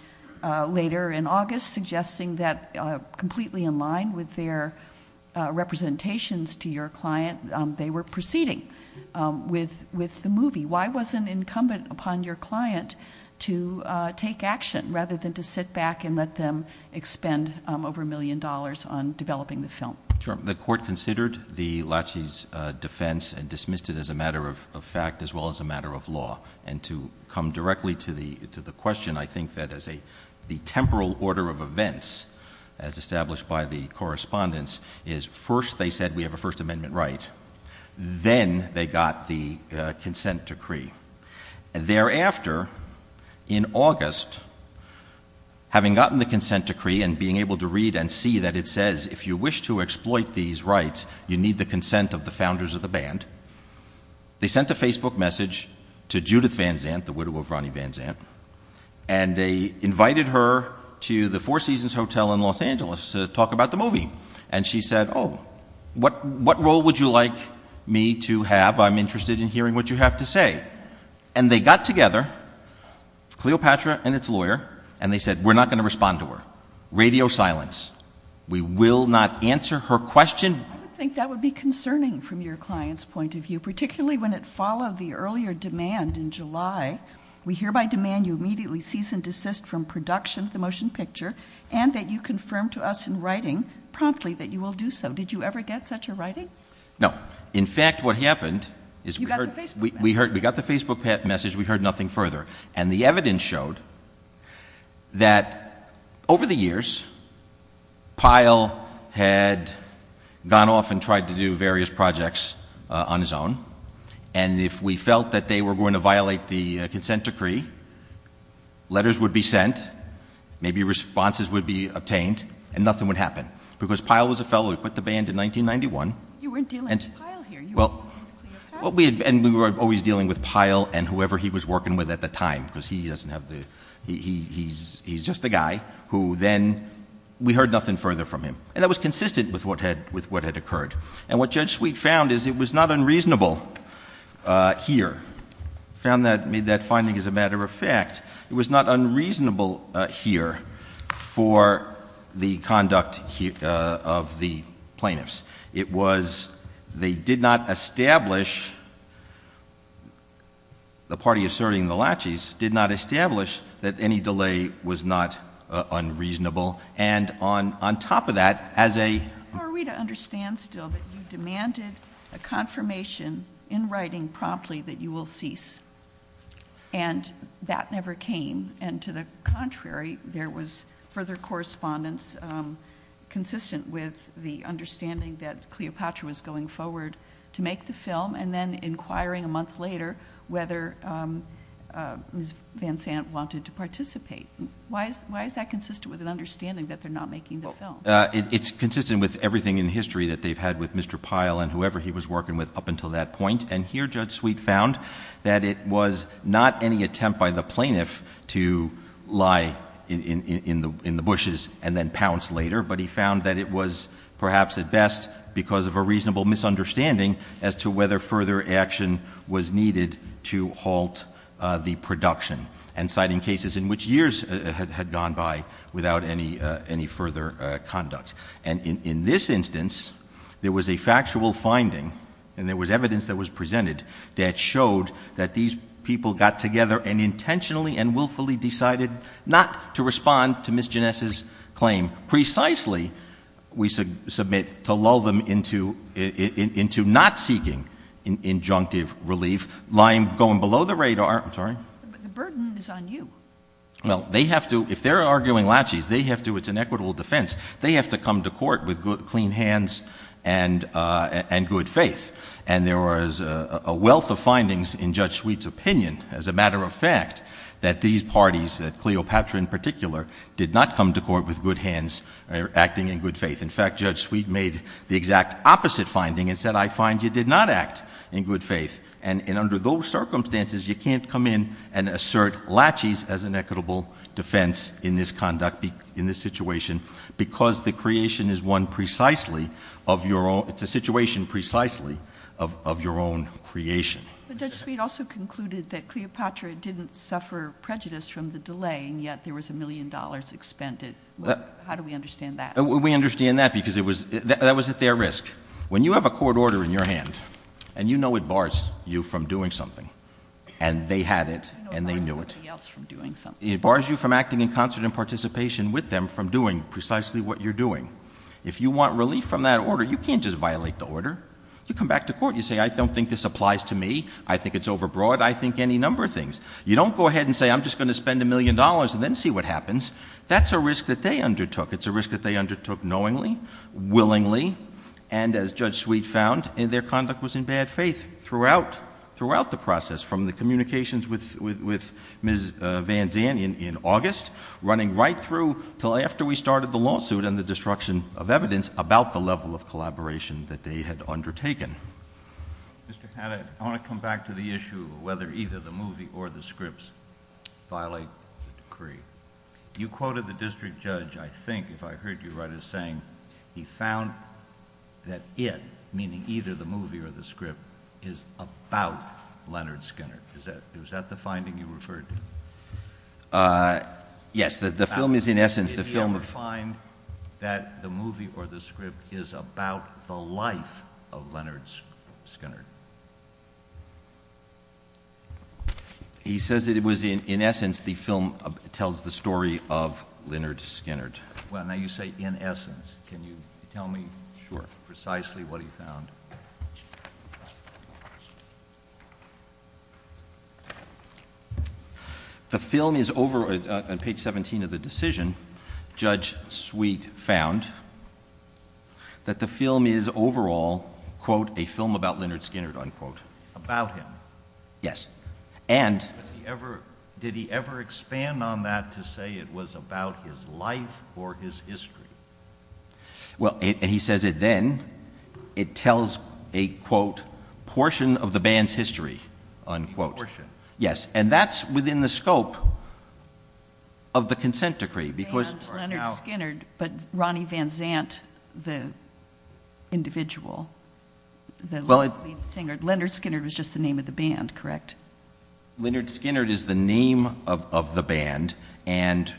later in August suggesting that, completely in line with their representations to your client, they were proceeding with the movie. Why was it incumbent upon your client to take action rather than to sit back and let them expend over a million dollars on developing the film? The court considered the latches defense and dismissed it as a matter of fact as well as a matter of law. And to come directly to the question, I think that the temporal order of events, as established by the correspondence, is first they said, we have a First Amendment right. Then they got the consent decree. And thereafter, in August, having gotten the consent decree and being able to read and see that it says, if you wish to exploit these rights, you need the consent of the founders of the band, they sent a Facebook message to Judith Van Zandt, the widow of Ronnie Van Zandt, and they invited her to the Four Seasons Hotel in Los Angeles to talk about the movie. And she said, oh, what role would you like me to have? I'm interested in hearing what you have to say. And they got together, Cleopatra and its lawyer, and they said, we're not going to respond to her. Radio silence. We will not answer her question. I think that would be concerning from your client's point of view, particularly when it followed the earlier demand in July. We hereby demand you immediately cease and desist from production of the motion picture and that you confirm to us in writing promptly that you will do so. Did you ever get such a writing? No. In fact, what happened is we got the Facebook message. We heard nothing further. And the evidence showed that over the years, Pyle had gone off and tried to do various projects on his own, and if we felt that they were going to violate the consent decree, letters would be sent, maybe responses would be obtained, and nothing would happen. Because Pyle was a fellow who put the band in 1991. You weren't dealing with Pyle here. And we were always dealing with Pyle and whoever he was working with at the time, because he's just the guy who then, we heard nothing further from him. And that was consistent with what had occurred. And what Judge Sweet found is it was not unreasonable here. She found that, made that finding as a matter of fact. It was not unreasonable here for the conduct of the plaintiffs. It was, they did not establish, the party asserting the laches, did not establish that any delay was not unreasonable. And on top of that, as a— Are we to understand still that you demanded a confirmation in writing promptly that you will cease? And that never came. And to the contrary, there was further correspondence consistent with the understanding that Cleopatra was going forward to make the film, and then inquiring a month later whether Van Sant wanted to participate. Why is that consistent with an understanding that they're not making the film? It's consistent with everything in history that they've had with Mr. Pyle and whoever he was working with up until that point. And here Judge Sweet found that it was not any attempt by the plaintiff to lie in the bushes and then pounce later. But he found that it was perhaps at best because of a reasonable misunderstanding as to whether further action was needed to halt the production, and citing cases in which years had gone by without any further conduct. And in this instance, there was a factual finding, and there was evidence that was presented, that showed that these people got together and intentionally and willfully decided not to respond to Ms. Ginesse's claim. Precisely, we submit, to lull them into not seeking injunctive relief, lying, going below the radar— The burden is on you. Well, if they're arguing laches, it's an equitable defense. They have to come to court with clean hands and good faith. And there was a wealth of findings in Judge Sweet's opinion, as a matter of fact, that these parties, that Cleopatra in particular, did not come to court with good hands or acting in good faith. In fact, Judge Sweet made the exact opposite finding and said, I find you did not act in good faith. And under those circumstances, you can't come in and assert laches as an equitable defense in this conduct, in this situation, because the situation is one precisely of your own creation. But Judge Sweet also concluded that Cleopatra didn't suffer prejudice from the delay, and yet there was a million dollars expended. How do we understand that? We understand that because that was at their risk. When you have a court order in your hands, and you know it bars you from doing something, and they had it, and they knew it. It bars you from acting in concert and participation with them from doing precisely what you're doing. If you want relief from that order, you can't just violate the order. You come back to court and you say, I don't think this applies to me. I think it's overbroad. I think any number of things. You don't go ahead and say, I'm just going to spend a million dollars and then see what happens. That's a risk that they undertook. It's a risk that they undertook knowingly, willingly, and as Judge Sweet found, their conduct was in bad faith throughout the process, from the communications with Ms. Van Danen in August, running right through until after we started the lawsuit and the destruction of evidence about the level of collaboration that they had undertaken. Mr. Panetta, I want to come back to the issue of whether either the movie or the scripts violate the decree. You quoted the district judge, I think, if I heard you right, as saying he found that it, meaning either the movie or the script, is about Leonard Skinner. Is that the finding you referred to? Yes. The film is, in essence, the film of. Did he ever find that the movie or the script is about the life of Leonard Skinner? He says that it was, in essence, the film tells the story of Leonard Skinner. Well, now you say in essence. Can you tell me precisely what he found? The film is over, at page 17 of the decision, Judge Sweet found that the film is overall, quote, a film about Leonard Skinner, unquote. About him? Yes. Did he ever expand on that to say it was about his life or his history? Well, he says that then it tells a, quote, portion of the band's history, unquote. A portion? Yes, and that's within the scope of the consent decree. But Ronnie Van Zant, the individual, the lovely singer, Leonard Skinner was just the name of the band, correct? Leonard Skinner is the name of the band, and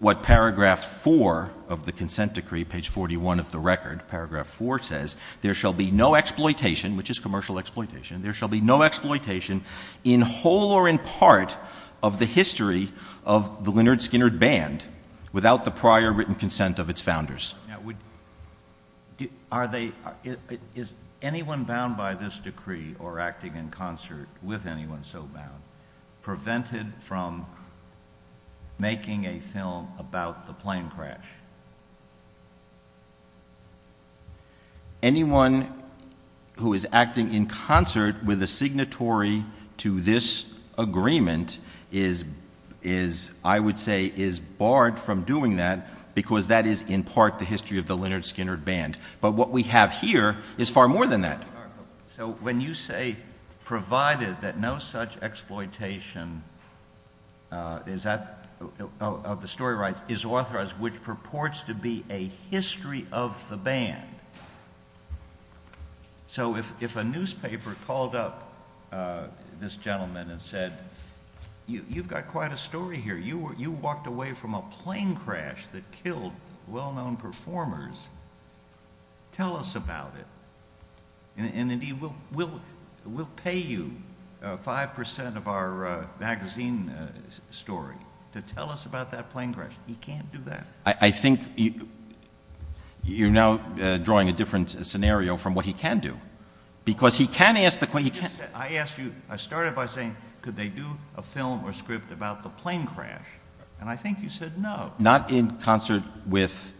what paragraph four of the consent decree, page 41 of the record, paragraph four says, there shall be no exploitation, which is commercial exploitation, there shall be no exploitation in whole or in part of the history of the Leonard Skinner band without the prior written consent of its founders. Now, is anyone bound by this decree or acting in concert with anyone so bound prevented from making a film about the plane crash? Anyone who is acting in concert with a signatory to this agreement is, I would say, is barred from doing that because that is in part the history of the Leonard Skinner band. But what we have here is far more than that. So when you say, provided that no such exploitation of the story rights is authorized, which purports to be a history of the band, so if a newspaper called up this gentleman and said, you've got quite a story here, you walked away from a plane crash that killed well-known performers, tell us about it, and we'll pay you 5% of our magazine story to tell us about that plane crash. He can't do that. I think you're now drawing a different scenario from what he can do, because he can ask the question. I asked you, I started by saying, could they do a film or script about the plane crash? And I think you said no. No, not in concert with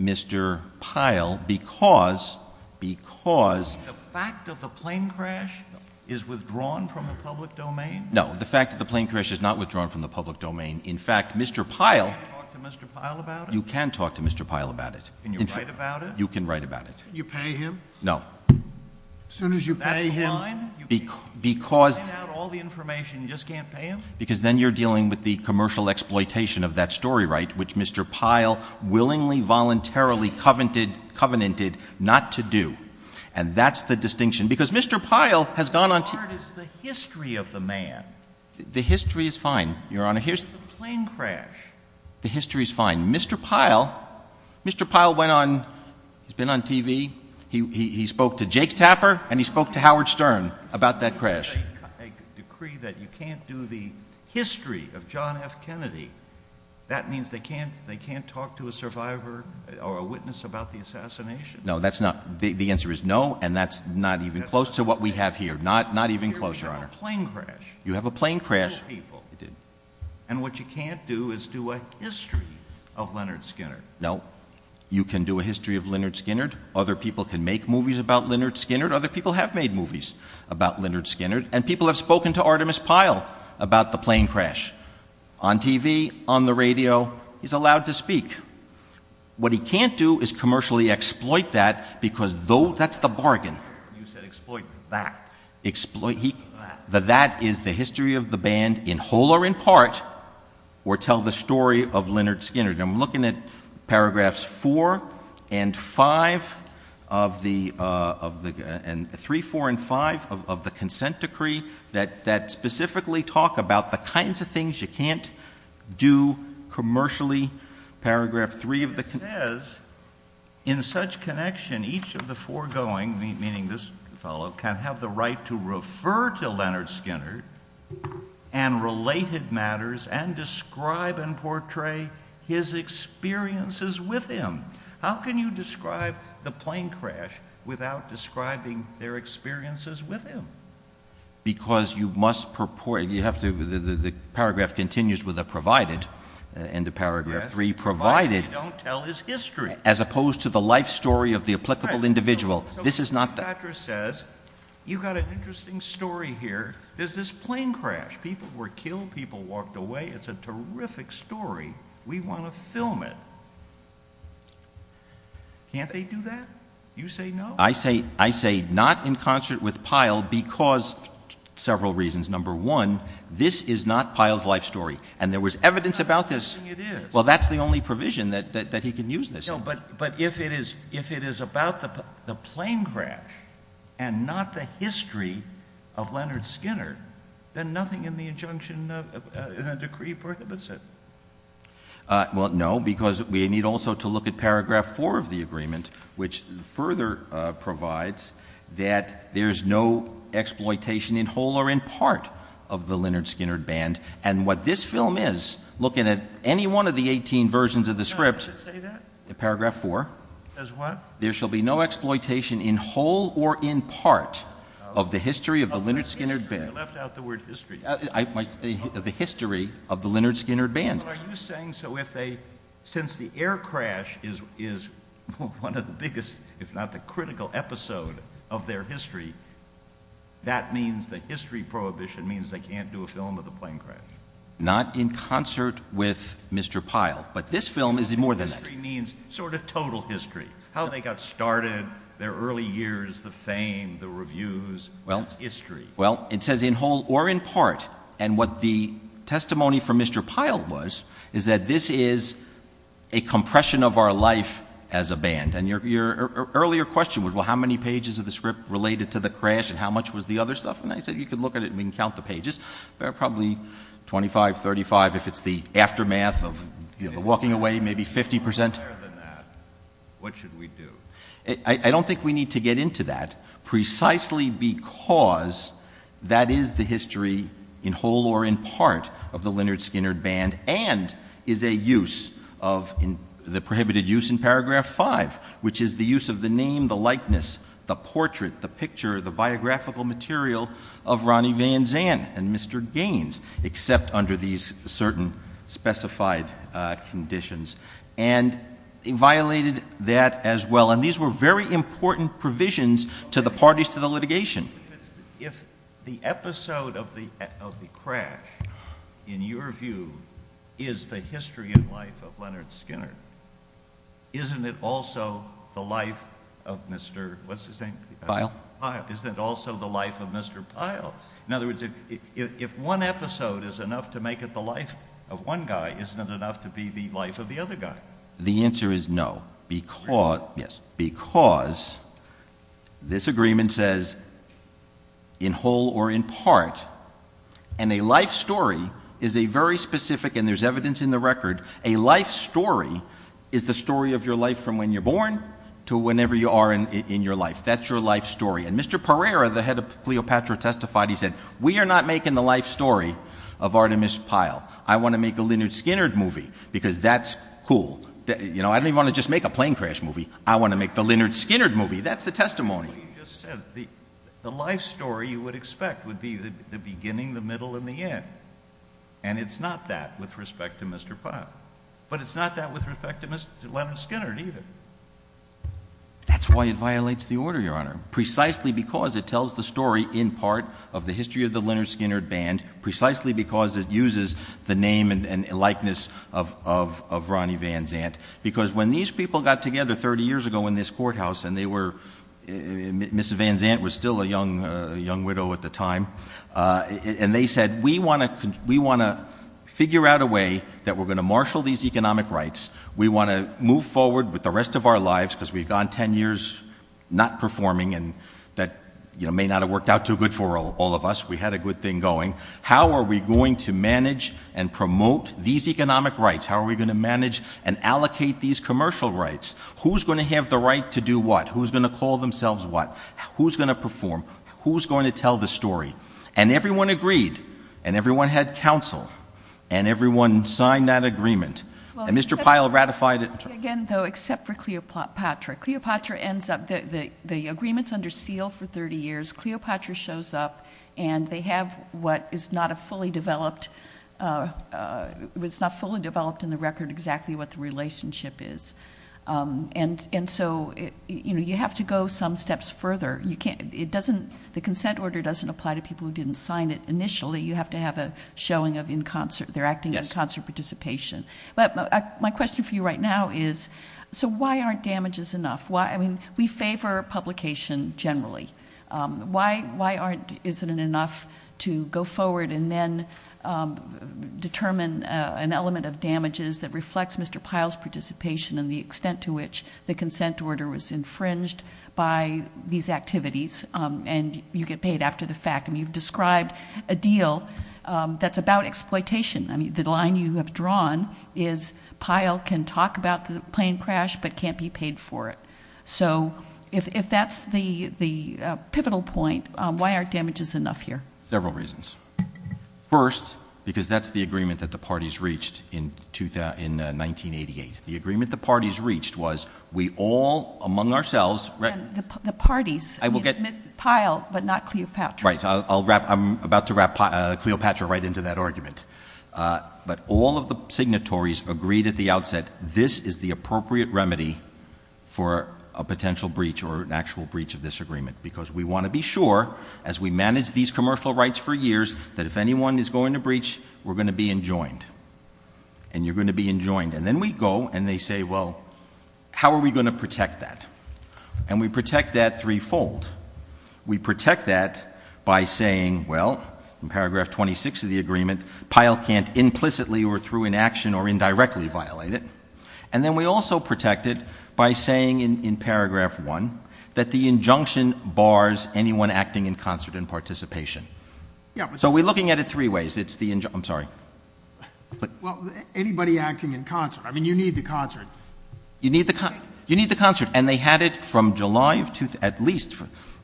Mr. Pyle, because, because... The fact that the plane crash is withdrawn from the public domain? No, the fact that the plane crash is not withdrawn from the public domain. In fact, Mr. Pyle... Can I talk to Mr. Pyle about it? You can talk to Mr. Pyle about it. Can you write about it? You can write about it. You pay him? No. As soon as you pay him... That's the line? Because... You print out all the information, you just can't pay him? Because then you're dealing with the commercial exploitation of that story right, which Mr. Pyle willingly, voluntarily, covenanted not to do. And that's the distinction. Because Mr. Pyle has gone on to... The part is the history of the man. The history is fine, Your Honor. Here's the plane crash. The history is fine. Mr. Pyle, Mr. Pyle went on, has been on TV. He spoke to Jake Taffer and he spoke to Howard Stern about that crash. I decree that you can't do the history of John F. Kennedy. That means they can't talk to a survivor or a witness about the assassination. No, that's not... The answer is no, and that's not even close to what we have here. Not even close, Your Honor. You have a plane crash. You have a plane crash. And what you can't do is do a history of Leonard Skinner. No. You can do a history of Leonard Skinner. Other people can make movies about Leonard Skinner. Other people have made movies about Leonard Skinner. And people have spoken to Artemis Pyle about the plane crash. On TV, on the radio. He's allowed to speak. What he can't do is commercially exploit that because that's the bargain. You said exploit that. Exploit that. That that is the history of the band in whole or in part, or tell the story of Leonard Skinner. I'm looking at paragraphs 4 and 5 of the, 3, 4, and 5 of the consent decree that specifically talk about the kinds of things you can't do commercially. Paragraph 3 of the consent decree says, in such connection each of the foregoing, meaning this fellow, can have the right to refer to Leonard Skinner and related matters and describe and portray his experiences with him. How can you describe the plane crash without describing their experiences with him? Because you must purport, you have to, the paragraph continues with a provided, end of paragraph 3, provided. Provided you don't tell his history. As opposed to the life story of the applicable individual. This is not. The doctor says, you've got an interesting story here. There's this plane crash. People were killed. People walked away. It's a terrific story. We want to film it. Can't they do that? You say no. I say not in concert with Pyle because several reasons. Number one, this is not Pyle's life story. And there was evidence about this. Well, that's the only provision that he can use this. But if it is about the plane crash and not the history of Leonard Skinner, then nothing in the injunction in that decree prohibits it. Well, no, because we need also to look at paragraph 4 of the agreement, which further provides that there's no exploitation in whole or in part of the Leonard Skinner band. And what this film is, looking at any one of the 18 versions of the script, paragraph 4, there shall be no exploitation in whole or in part of the history of the Leonard Skinner band. You left out the word history. I might say the history of the Leonard Skinner band. Are you saying so if they, since the air crash is one of the biggest, if not the critical episode of their history, that means the history prohibition means they can't do a film of the plane crash? Not in concert with Mr. Pyle. But this film is more than that. Total history means sort of total history. How they got started, their early years, the fame, the reviews, history. Well, it says in whole or in part. And what the testimony from Mr. Pyle was, is that this is a compression of our life as a band. And your earlier question was, well, how many pages of the script related to the crash and how much was the other stuff? And I said, you can look at it and count the pages. Probably 25, 35 if it's the aftermath of walking away, maybe 50%. But other than that, what should we do? I don't think we need to get into that. Precisely because that is the history in whole or in part of the Leonard Skinner band and is a use of the prohibited use in paragraph five, which is the use of the name, the likeness, the portrait, the picture, the biographical material of Ronnie Van Zandt and Mr. Gaines, except under these certain specified conditions. And he violated that as well. And these were very important provisions to the parties to the litigation. If the episode of the crash, in your view, is the history and life of Leonard Skinner, isn't it also the life of Mr. Pyle? Isn't it also the life of Mr. Pyle? In other words, if one episode is enough to make it the life of one guy, isn't it enough to be the life of the other guy? The answer is no, because this agreement says in whole or in part, and a life story is a very specific, and there's evidence in the record, a life story is the story of your life from when you're born to whenever you are in your life. That's your life story. And Mr. Pereira, the head of Cleopatra, testified. He said, we are not making the life story of Artemis Pyle. I want to make the Leonard Skinner movie because that's cool. I don't even want to just make a plane crash movie. I want to make the Leonard Skinner movie. That's the testimony. He just said the life story you would expect would be the beginning, the middle, and the end. And it's not that with respect to Mr. Pyle. But it's not that with respect to Mr. Leonard Skinner either. That's why it violates the order, Your Honor, precisely because it tells the story in part of the history of the Leonard Skinner band, precisely because it uses the name and likeness of Ronnie Van Zandt. Because when these people got together 30 years ago in this courthouse, and they were, Mr. Van Zandt was still a young widow at the time, and they said, we want to figure out a way that we're going to marshal these economic rights. We want to move forward with the rest of our lives because we've gone 10 years not performing, and that may not have worked out too good for all of us. We had a good thing going. How are we going to manage and promote these economic rights? How are we going to manage and allocate these commercial rights? Who's going to have the right to do what? Who's going to call themselves what? Who's going to perform? Who's going to tell the story? And everyone agreed. And everyone had counsel. And everyone signed that agreement. And Mr. Pyle ratified it. Again, though, except for Cleopatra. Cleopatra ends up, the agreement's under seal for 30 years. Cleopatra shows up, and they have what is not a fully developed, was not fully developed in the record exactly what the relationship is. And so, you know, you have to go some steps further. You can't, it doesn't, the consent order doesn't apply to people who didn't sign it initially. You have to have a showing of in concert, their acting in concert participation. But my question for you right now is, so why aren't damages enough? I mean, we favor publication generally. Why aren't, isn't it enough to go forward and then determine an element of damages that reflects Mr. Pyle's participation and the extent to which the consent order was infringed by these activities, and you get paid after the fact. And you've described a deal that's about exploitation. I mean, the line you have drawn is Pyle can talk about the plane crash, but can't be paid for it. So if that's the pivotal point, why aren't damages enough here? Several reasons. First, because that's the agreement that the parties reached in 1988. The agreement the parties reached was we all, among ourselves... The parties. Pyle, but not Cleopatra. Right, so I'll wrap, I'm about to wrap Cleopatra right into that argument. But all of the signatories agreed at the outset, this is the appropriate remedy for a potential breach or an actual breach of this agreement. Because we want to be sure, as we manage these commercial rights for years, that if anyone is going to breach, we're going to be enjoined. And you're going to be enjoined. And then we go and they say, well, how are we going to protect that? And we protect that threefold. We protect that by saying, well, in paragraph 26 of the agreement, Pyle can't implicitly or through inaction or indirectly violate it. And then we also protect it by saying in paragraph 1 that the injunction bars anyone acting in concert and participation. So we're looking at it three ways. I'm sorry. Well, anybody acting in concert. I mean, you need the concert. You need the concert. And they had it from July at least.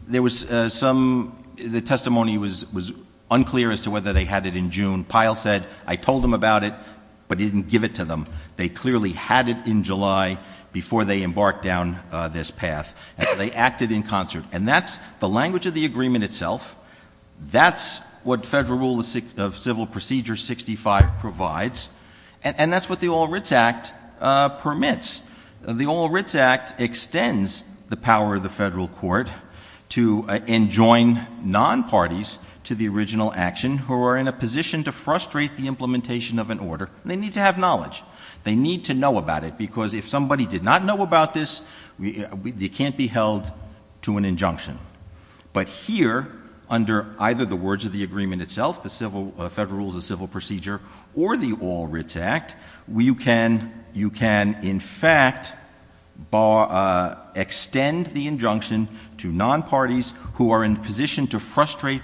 There was some, the testimony was unclear as to whether they had it in June. Pyle said, I told them about it, but he didn't give it to them. They clearly had it in July before they embarked down this path. They acted in concert. And that's the language of the agreement itself. That's what Federal Rule of Civil Procedure 65 provides. And that's what the Oral Writs Act permits. The Oral Writs Act extends the power of the federal court to enjoin non-parties to the original action who are in a position to frustrate the implementation of an order. They need to have knowledge. They need to know about it because if somebody did not know about this, they can't be held to an injunction. But here, under either the words of the agreement itself, the Federal Rule of Civil Procedure or the Oral Writs Act, you can, in fact, extend the injunction to non-parties who are in a position to frustrate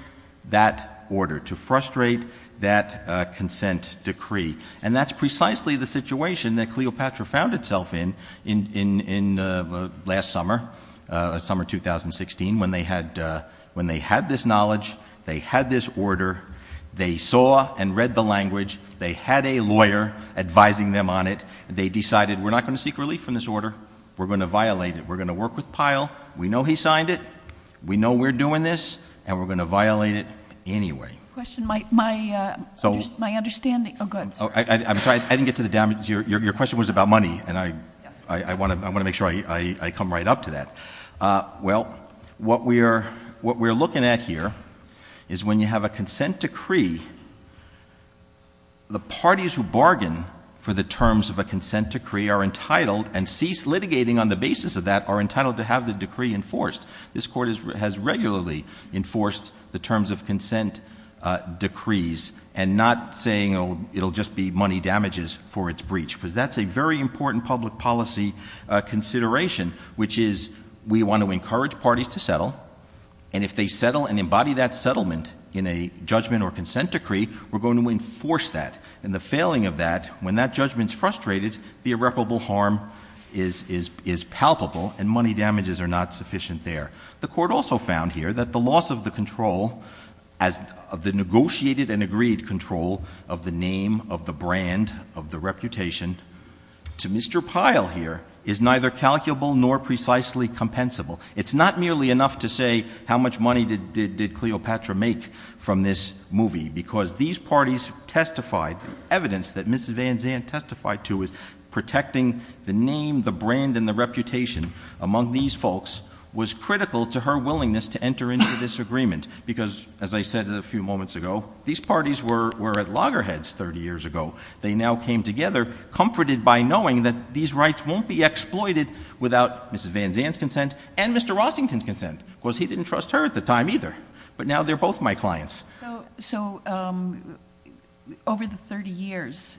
that order, to frustrate that consent decree. And that's precisely the situation that Cleopatra found itself in last summer, summer 2016, when they had this knowledge, they had a lawyer advising them on it, and they decided we're not going to seek relief from this order. We're going to violate it. We're going to work with Pyle. We know he signed it. We know we're doing this, and we're going to violate it anyway. My understanding, oh, go ahead. I'm sorry. I didn't get to the damage. Your question was about money, and I want to make sure I come right up to that. Well, what we're looking at here is when you have a consent decree, the parties who bargain for the terms of a consent decree are entitled and cease litigating on the basis of that, are entitled to have the decree enforced. This Court has regularly enforced the terms of consent decrees and not saying, oh, it'll just be money damages for its breach, because that's a very important public policy consideration, which is we want to encourage parties to settle, and if they settle and embody that settlement in a judgment or consent decree, we're going to enforce that. And the failing of that, when that judgment's frustrated, the irreparable harm is palpable, and money damages are not sufficient there. The Court also found here that the loss of the control, of the negotiated and agreed control of the name, of the brand, of the reputation, to Mr. Pyle here is neither calculable nor precisely compensable. It's not merely enough to say how much money did Cleopatra make from this movie, because these parties testified, evidence that Mrs. Van Zandt testified to, is protecting the name, the brand, and the reputation among these folks was critical to her willingness to enter into this agreement, because, as I said a few moments ago, these parties were at loggerheads 30 years ago. They now came together, comforted by knowing that these rights won't be exploited without Mrs. Van Zandt's consent and Mr. Rossington's consent. Of course, he didn't trust her at the time either, but now they're both my clients. So, over the 30 years,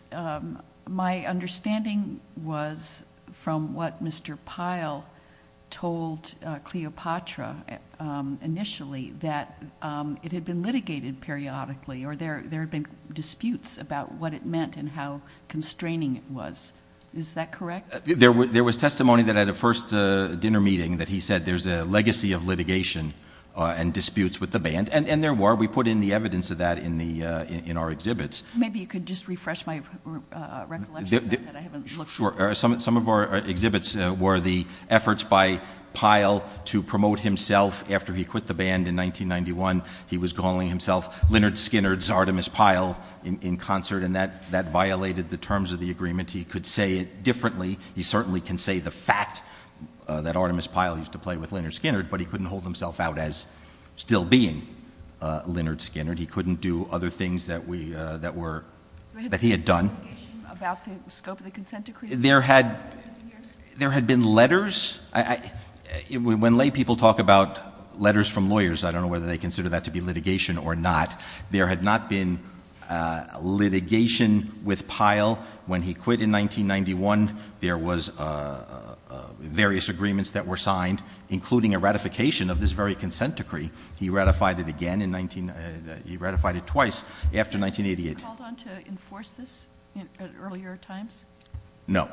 my understanding was, from what Mr. Pyle told Cleopatra initially, that it had been litigated periodically, or there had been disputes about what it meant and how constraining it was. Is that correct? There was testimony that at a first dinner meeting that he said, there's a legacy of litigation and disputes with the band, and there were. We put in the evidence of that in our exhibits. Maybe you could just refresh my recollection. Sure. Some of our exhibits were the efforts by Pyle to promote himself after he quit the band in 1991. He was calling himself Lynyrd Skynyrd's Artemis Pyle in concert, and that violated the terms of the agreement. He could say it differently. He certainly can say the fact that Artemis Pyle used to play with Lynyrd Skynyrd, but he couldn't hold himself out as still being Lynyrd Skynyrd. He couldn't do other things that he had done. Do we have any indication of the scope of the consent decree? There had been letters. When lay people talk about letters from lawyers, I don't know whether they consider that to be litigation or not. There had not been litigation with Pyle when he quit in 1991. There was various agreements that were signed, including a ratification of this very consent decree. He ratified it again in 19—he ratified it twice after 1988. Did he hold on to enforce this at earlier times? No.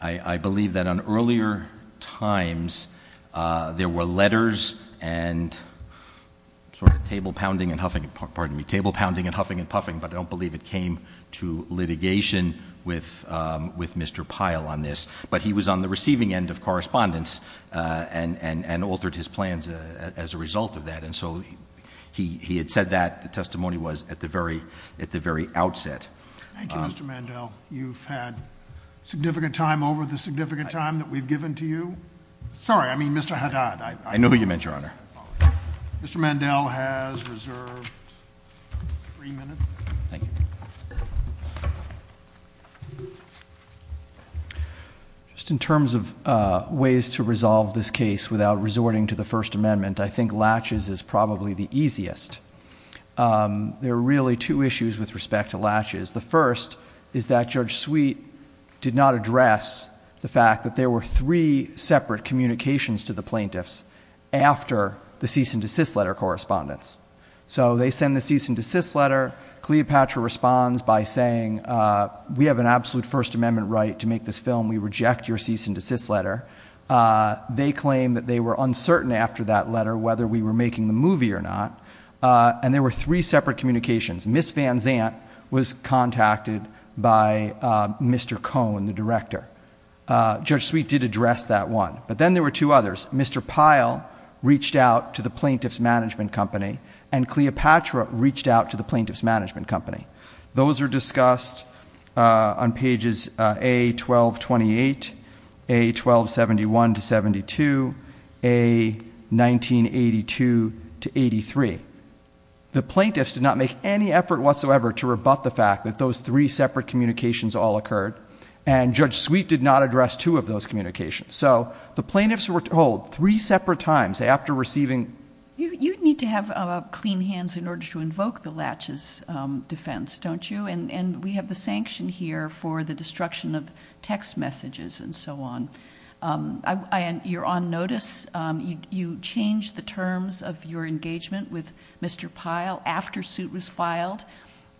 I believe that on earlier times there were letters and sort of table pounding and huffing and puffing, but I don't believe it came to litigation with Mr. Pyle on this. But he was on the receiving end of correspondence and altered his plans as a result of that. And so he had said that, the testimony was, at the very outset. Thank you, Mr. Mandel. You've had significant time over the significant time that we've given to you. Sorry, I mean, Mr. Haddad. I know who you meant, Your Honor. Mr. Mandel has reserved three minutes. Thank you. Just in terms of ways to resolve this case without resorting to the First Amendment, I think latches is probably the easiest. There are really two issues with respect to latches. The first is that Judge Sweet did not address the fact that there were three separate communications to the plaintiffs after the cease and desist letter correspondence. So they send the cease and desist letter. Cleopatra responds by saying, we have an absolute First Amendment right to make this film. We reject your cease and desist letter. They claim that they were uncertain after that letter whether we were making the movie or not, and there were three separate communications. Ms. Van Zandt was contacted by Mr. Cohn, the director. Judge Sweet did address that one. But then there were two others. Mr. Pyle reached out to the plaintiff's management company, and Cleopatra reached out to the plaintiff's management company. Those are discussed on pages A-12-28, A-12-71-72, A-19-82-83. The plaintiffs did not make any effort whatsoever to rebut the fact that those three separate communications all occurred, and Judge Sweet did not address two of those communications. So the plaintiffs were told three separate times after receiving... You need to have clean hands in order to invoke the laches defense, don't you? And we have the sanction here for the destruction of text messages and so on. You're on notice. You changed the terms of your engagement with Mr. Pyle after suit was filed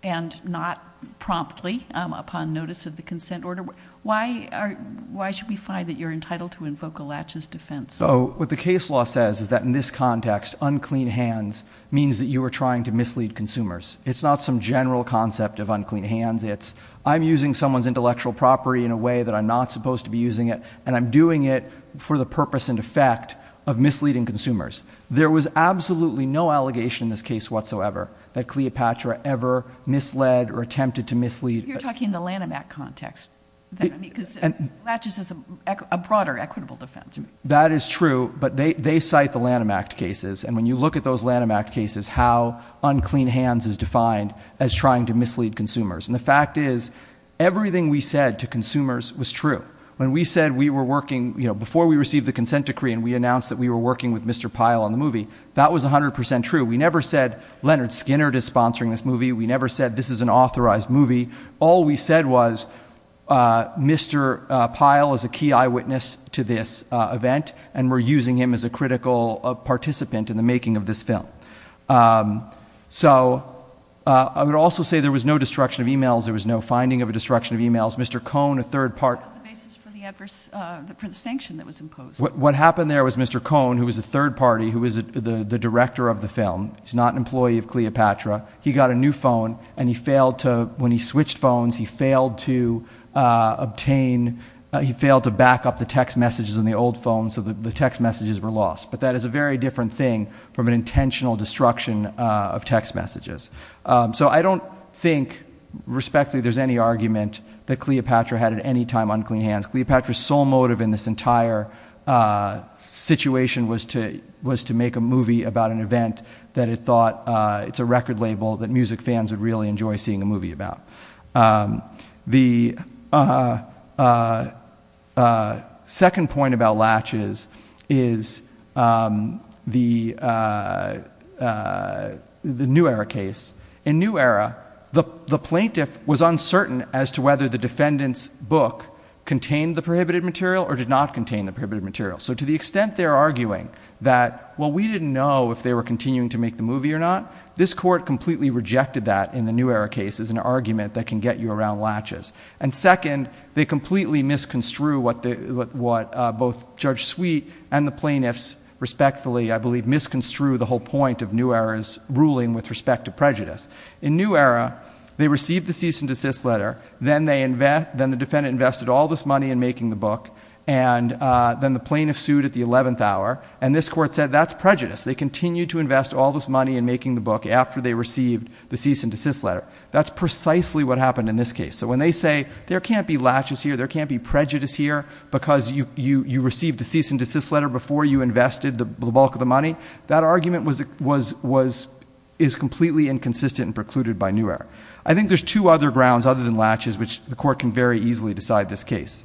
and not promptly upon notice of the consent order. Why should we find that you're entitled to invoke a laches defense? So what the case law says is that in this context, unclean hands means that you are trying to mislead consumers. It's not some general concept of unclean hands. It's I'm using someone's intellectual property in a way that I'm not supposed to be using it, and I'm doing it for the purpose and effect of misleading consumers. There was absolutely no allegation in this case whatsoever that Cleopatra ever misled or attempted to mislead. You're talking in the Lanham Act context, because laches is a broader equitable defense. That is true, but they cite the Lanham Act cases, and when you look at those Lanham Act cases, how unclean hands is defined as trying to mislead consumers. And the fact is everything we said to consumers was true. When we said we were working, you know, before we received the consent decree and we announced that we were working with Mr. Pyle on the movie, that was 100% true. We never said Leonard Skinner is sponsoring this movie. We never said this is an authorized movie. All we said was Mr. Pyle is a key eyewitness to this event, and we're using him as a critical participant in the making of this film. So I would also say there was no destruction of e-mails. There was no finding of a destruction of e-mails. Mr. Cohn, a third party... What happened there was Mr. Cohn, who was a third party, who was the director of the film, he's not an employee of Cleopatra, he got a new phone, and he failed to, when he switched phones, he failed to obtain, he failed to back up the text messages in the old phones, so the text messages were lost. But that is a very different thing from an intentional destruction of text messages. So I don't think, respectfully, there's any argument that Cleopatra had at any time unclean hands. Cleopatra's sole motive in this entire situation was to make a movie about an event that it thought it's a record label that music fans would really enjoy seeing a movie about. The second point about latches is the New Era case. In New Era, the plaintiff was uncertain as to whether the defendant's book contained the prohibited material or did not contain the prohibited material. So to the extent they're arguing that, well, we didn't know if they were continuing to make the movie or not, this court completely rejected that in the New Era case as an argument that can get you around latches. And second, they completely misconstrued what both Judge Sweet and the plaintiffs, respectfully, I believe, misconstrued the whole point of New Era's ruling with respect to prejudice. In New Era, they received the cease and desist letter, then the defendant invested all this money in making the book, and then the plaintiff sued at the 11th hour, and this court said that's prejudice. They continued to invest all this money in making the book after they received the cease and desist letter. That's precisely what happened in this case. So when they say there can't be latches here, there can't be prejudice here, because you received the cease and desist letter before you invested the bulk of the money, I think there's two other grounds other than latches which the court can very easily decide this case.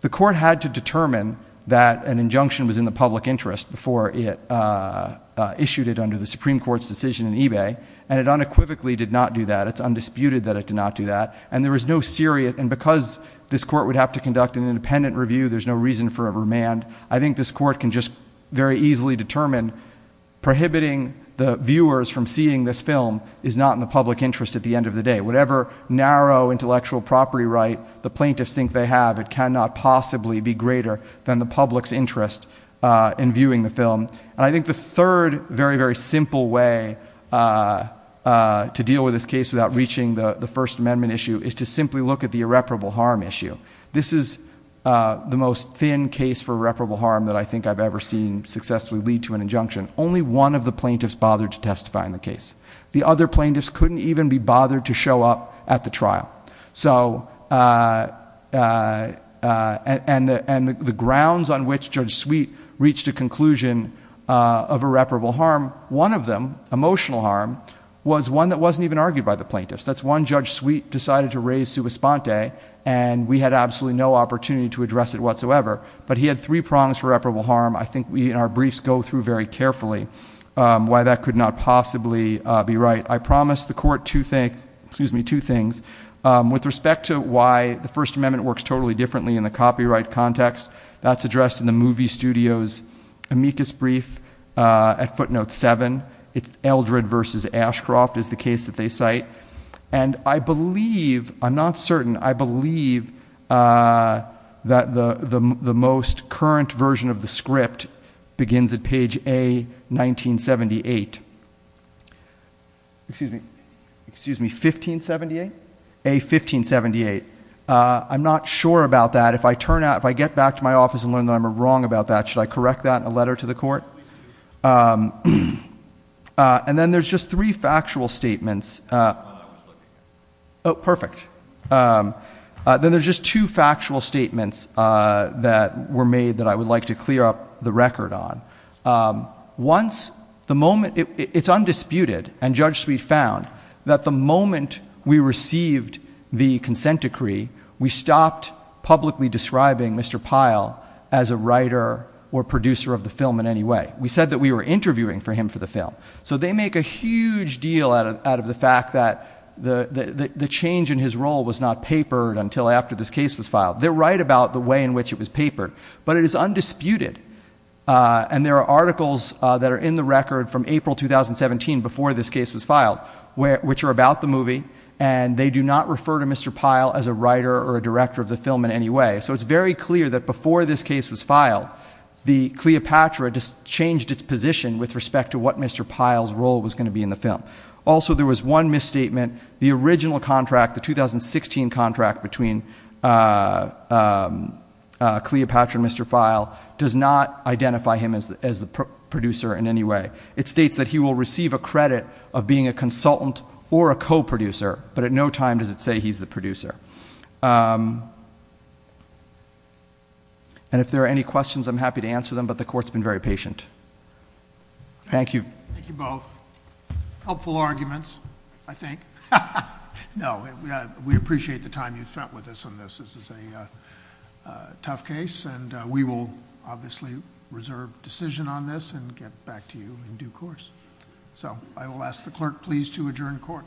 The court had to determine that an injunction was in the public interest before it issued it under the Supreme Court's decision in eBay, and it unequivocally did not do that. It's undisputed that it did not do that, and there was no serious, and because this court would have to conduct an independent review, there's no reason for a remand. I think this court can just very easily determine prohibiting the viewers from seeing this film is not in the public interest at the end of the day. Whatever narrow intellectual property right the plaintiffs think they have, it cannot possibly be greater than the public's interest in viewing the film. And I think the third very, very simple way to deal with this case without reaching the First Amendment issue is to simply look at the irreparable harm issue. This is the most thin case for irreparable harm that I think I've ever seen successfully lead to an injunction. Only one of the plaintiffs bothered to testify in the case. The other plaintiffs couldn't even be bothered to show up at the trial. And the grounds on which Judge Sweet reached a conclusion of irreparable harm, one of them, emotional harm, was one that wasn't even argued by the plaintiffs. That's one Judge Sweet decided to raise sua sponte, and we had absolutely no opportunity to address it whatsoever. But he had three prongs for irreparable harm. I think we in our briefs go through very carefully why that could not possibly be right. I promised the court two things. With respect to why the First Amendment works totally differently in the copyright context, that's addressed in the movie studio's amicus brief at footnote 7. It's Eldred v. Ashcroft is the case that they cite. And I believe, I'm not certain, I believe that the most current version of the script begins at page A-1978. Excuse me, excuse me, 1578? A-1578. I'm not sure about that. If I get back to my office and learn that I'm wrong about that, should I correct that in a letter to the court? And then there's just three factual statements. Oh, perfect. Then there's just two factual statements that were made that I would like to clear up the record on. Once, the moment, it's undisputed, and Judge Sweet found that the moment we received the consent decree, we stopped publicly describing Mr. Pyle as a writer or producer of the film in any way. We said that we were interviewing for him for the film. So they make a huge deal out of the fact that the change in his role was not papered until after this case was filed. They're right about the way in which it was papered. But it is undisputed. And there are articles that are in the record from April 2017, before this case was filed, which are about the movie. And they do not refer to Mr. Pyle as a writer or a director of the film in any way. So it's very clear that before this case was filed, the Cleopatra changed its position with respect to what Mr. Pyle's role was going to be in the film. Also, there was one misstatement. The original contract, the 2016 contract between Cleopatra and Mr. Pyle, does not identify him as a producer in any way. It states that he will receive a credit of being a consultant or a co-producer. But at no time does it say he's the producer. And if there are any questions, I'm happy to answer them. But the Court's been very patient. Thank you. Thank you both. Helpful arguments, I think. No, we appreciate the time you've spent with us on this. This is a tough case. And we will obviously reserve decision on this and get back to you in due course. So I will ask the Clerk, please, to adjourn Court.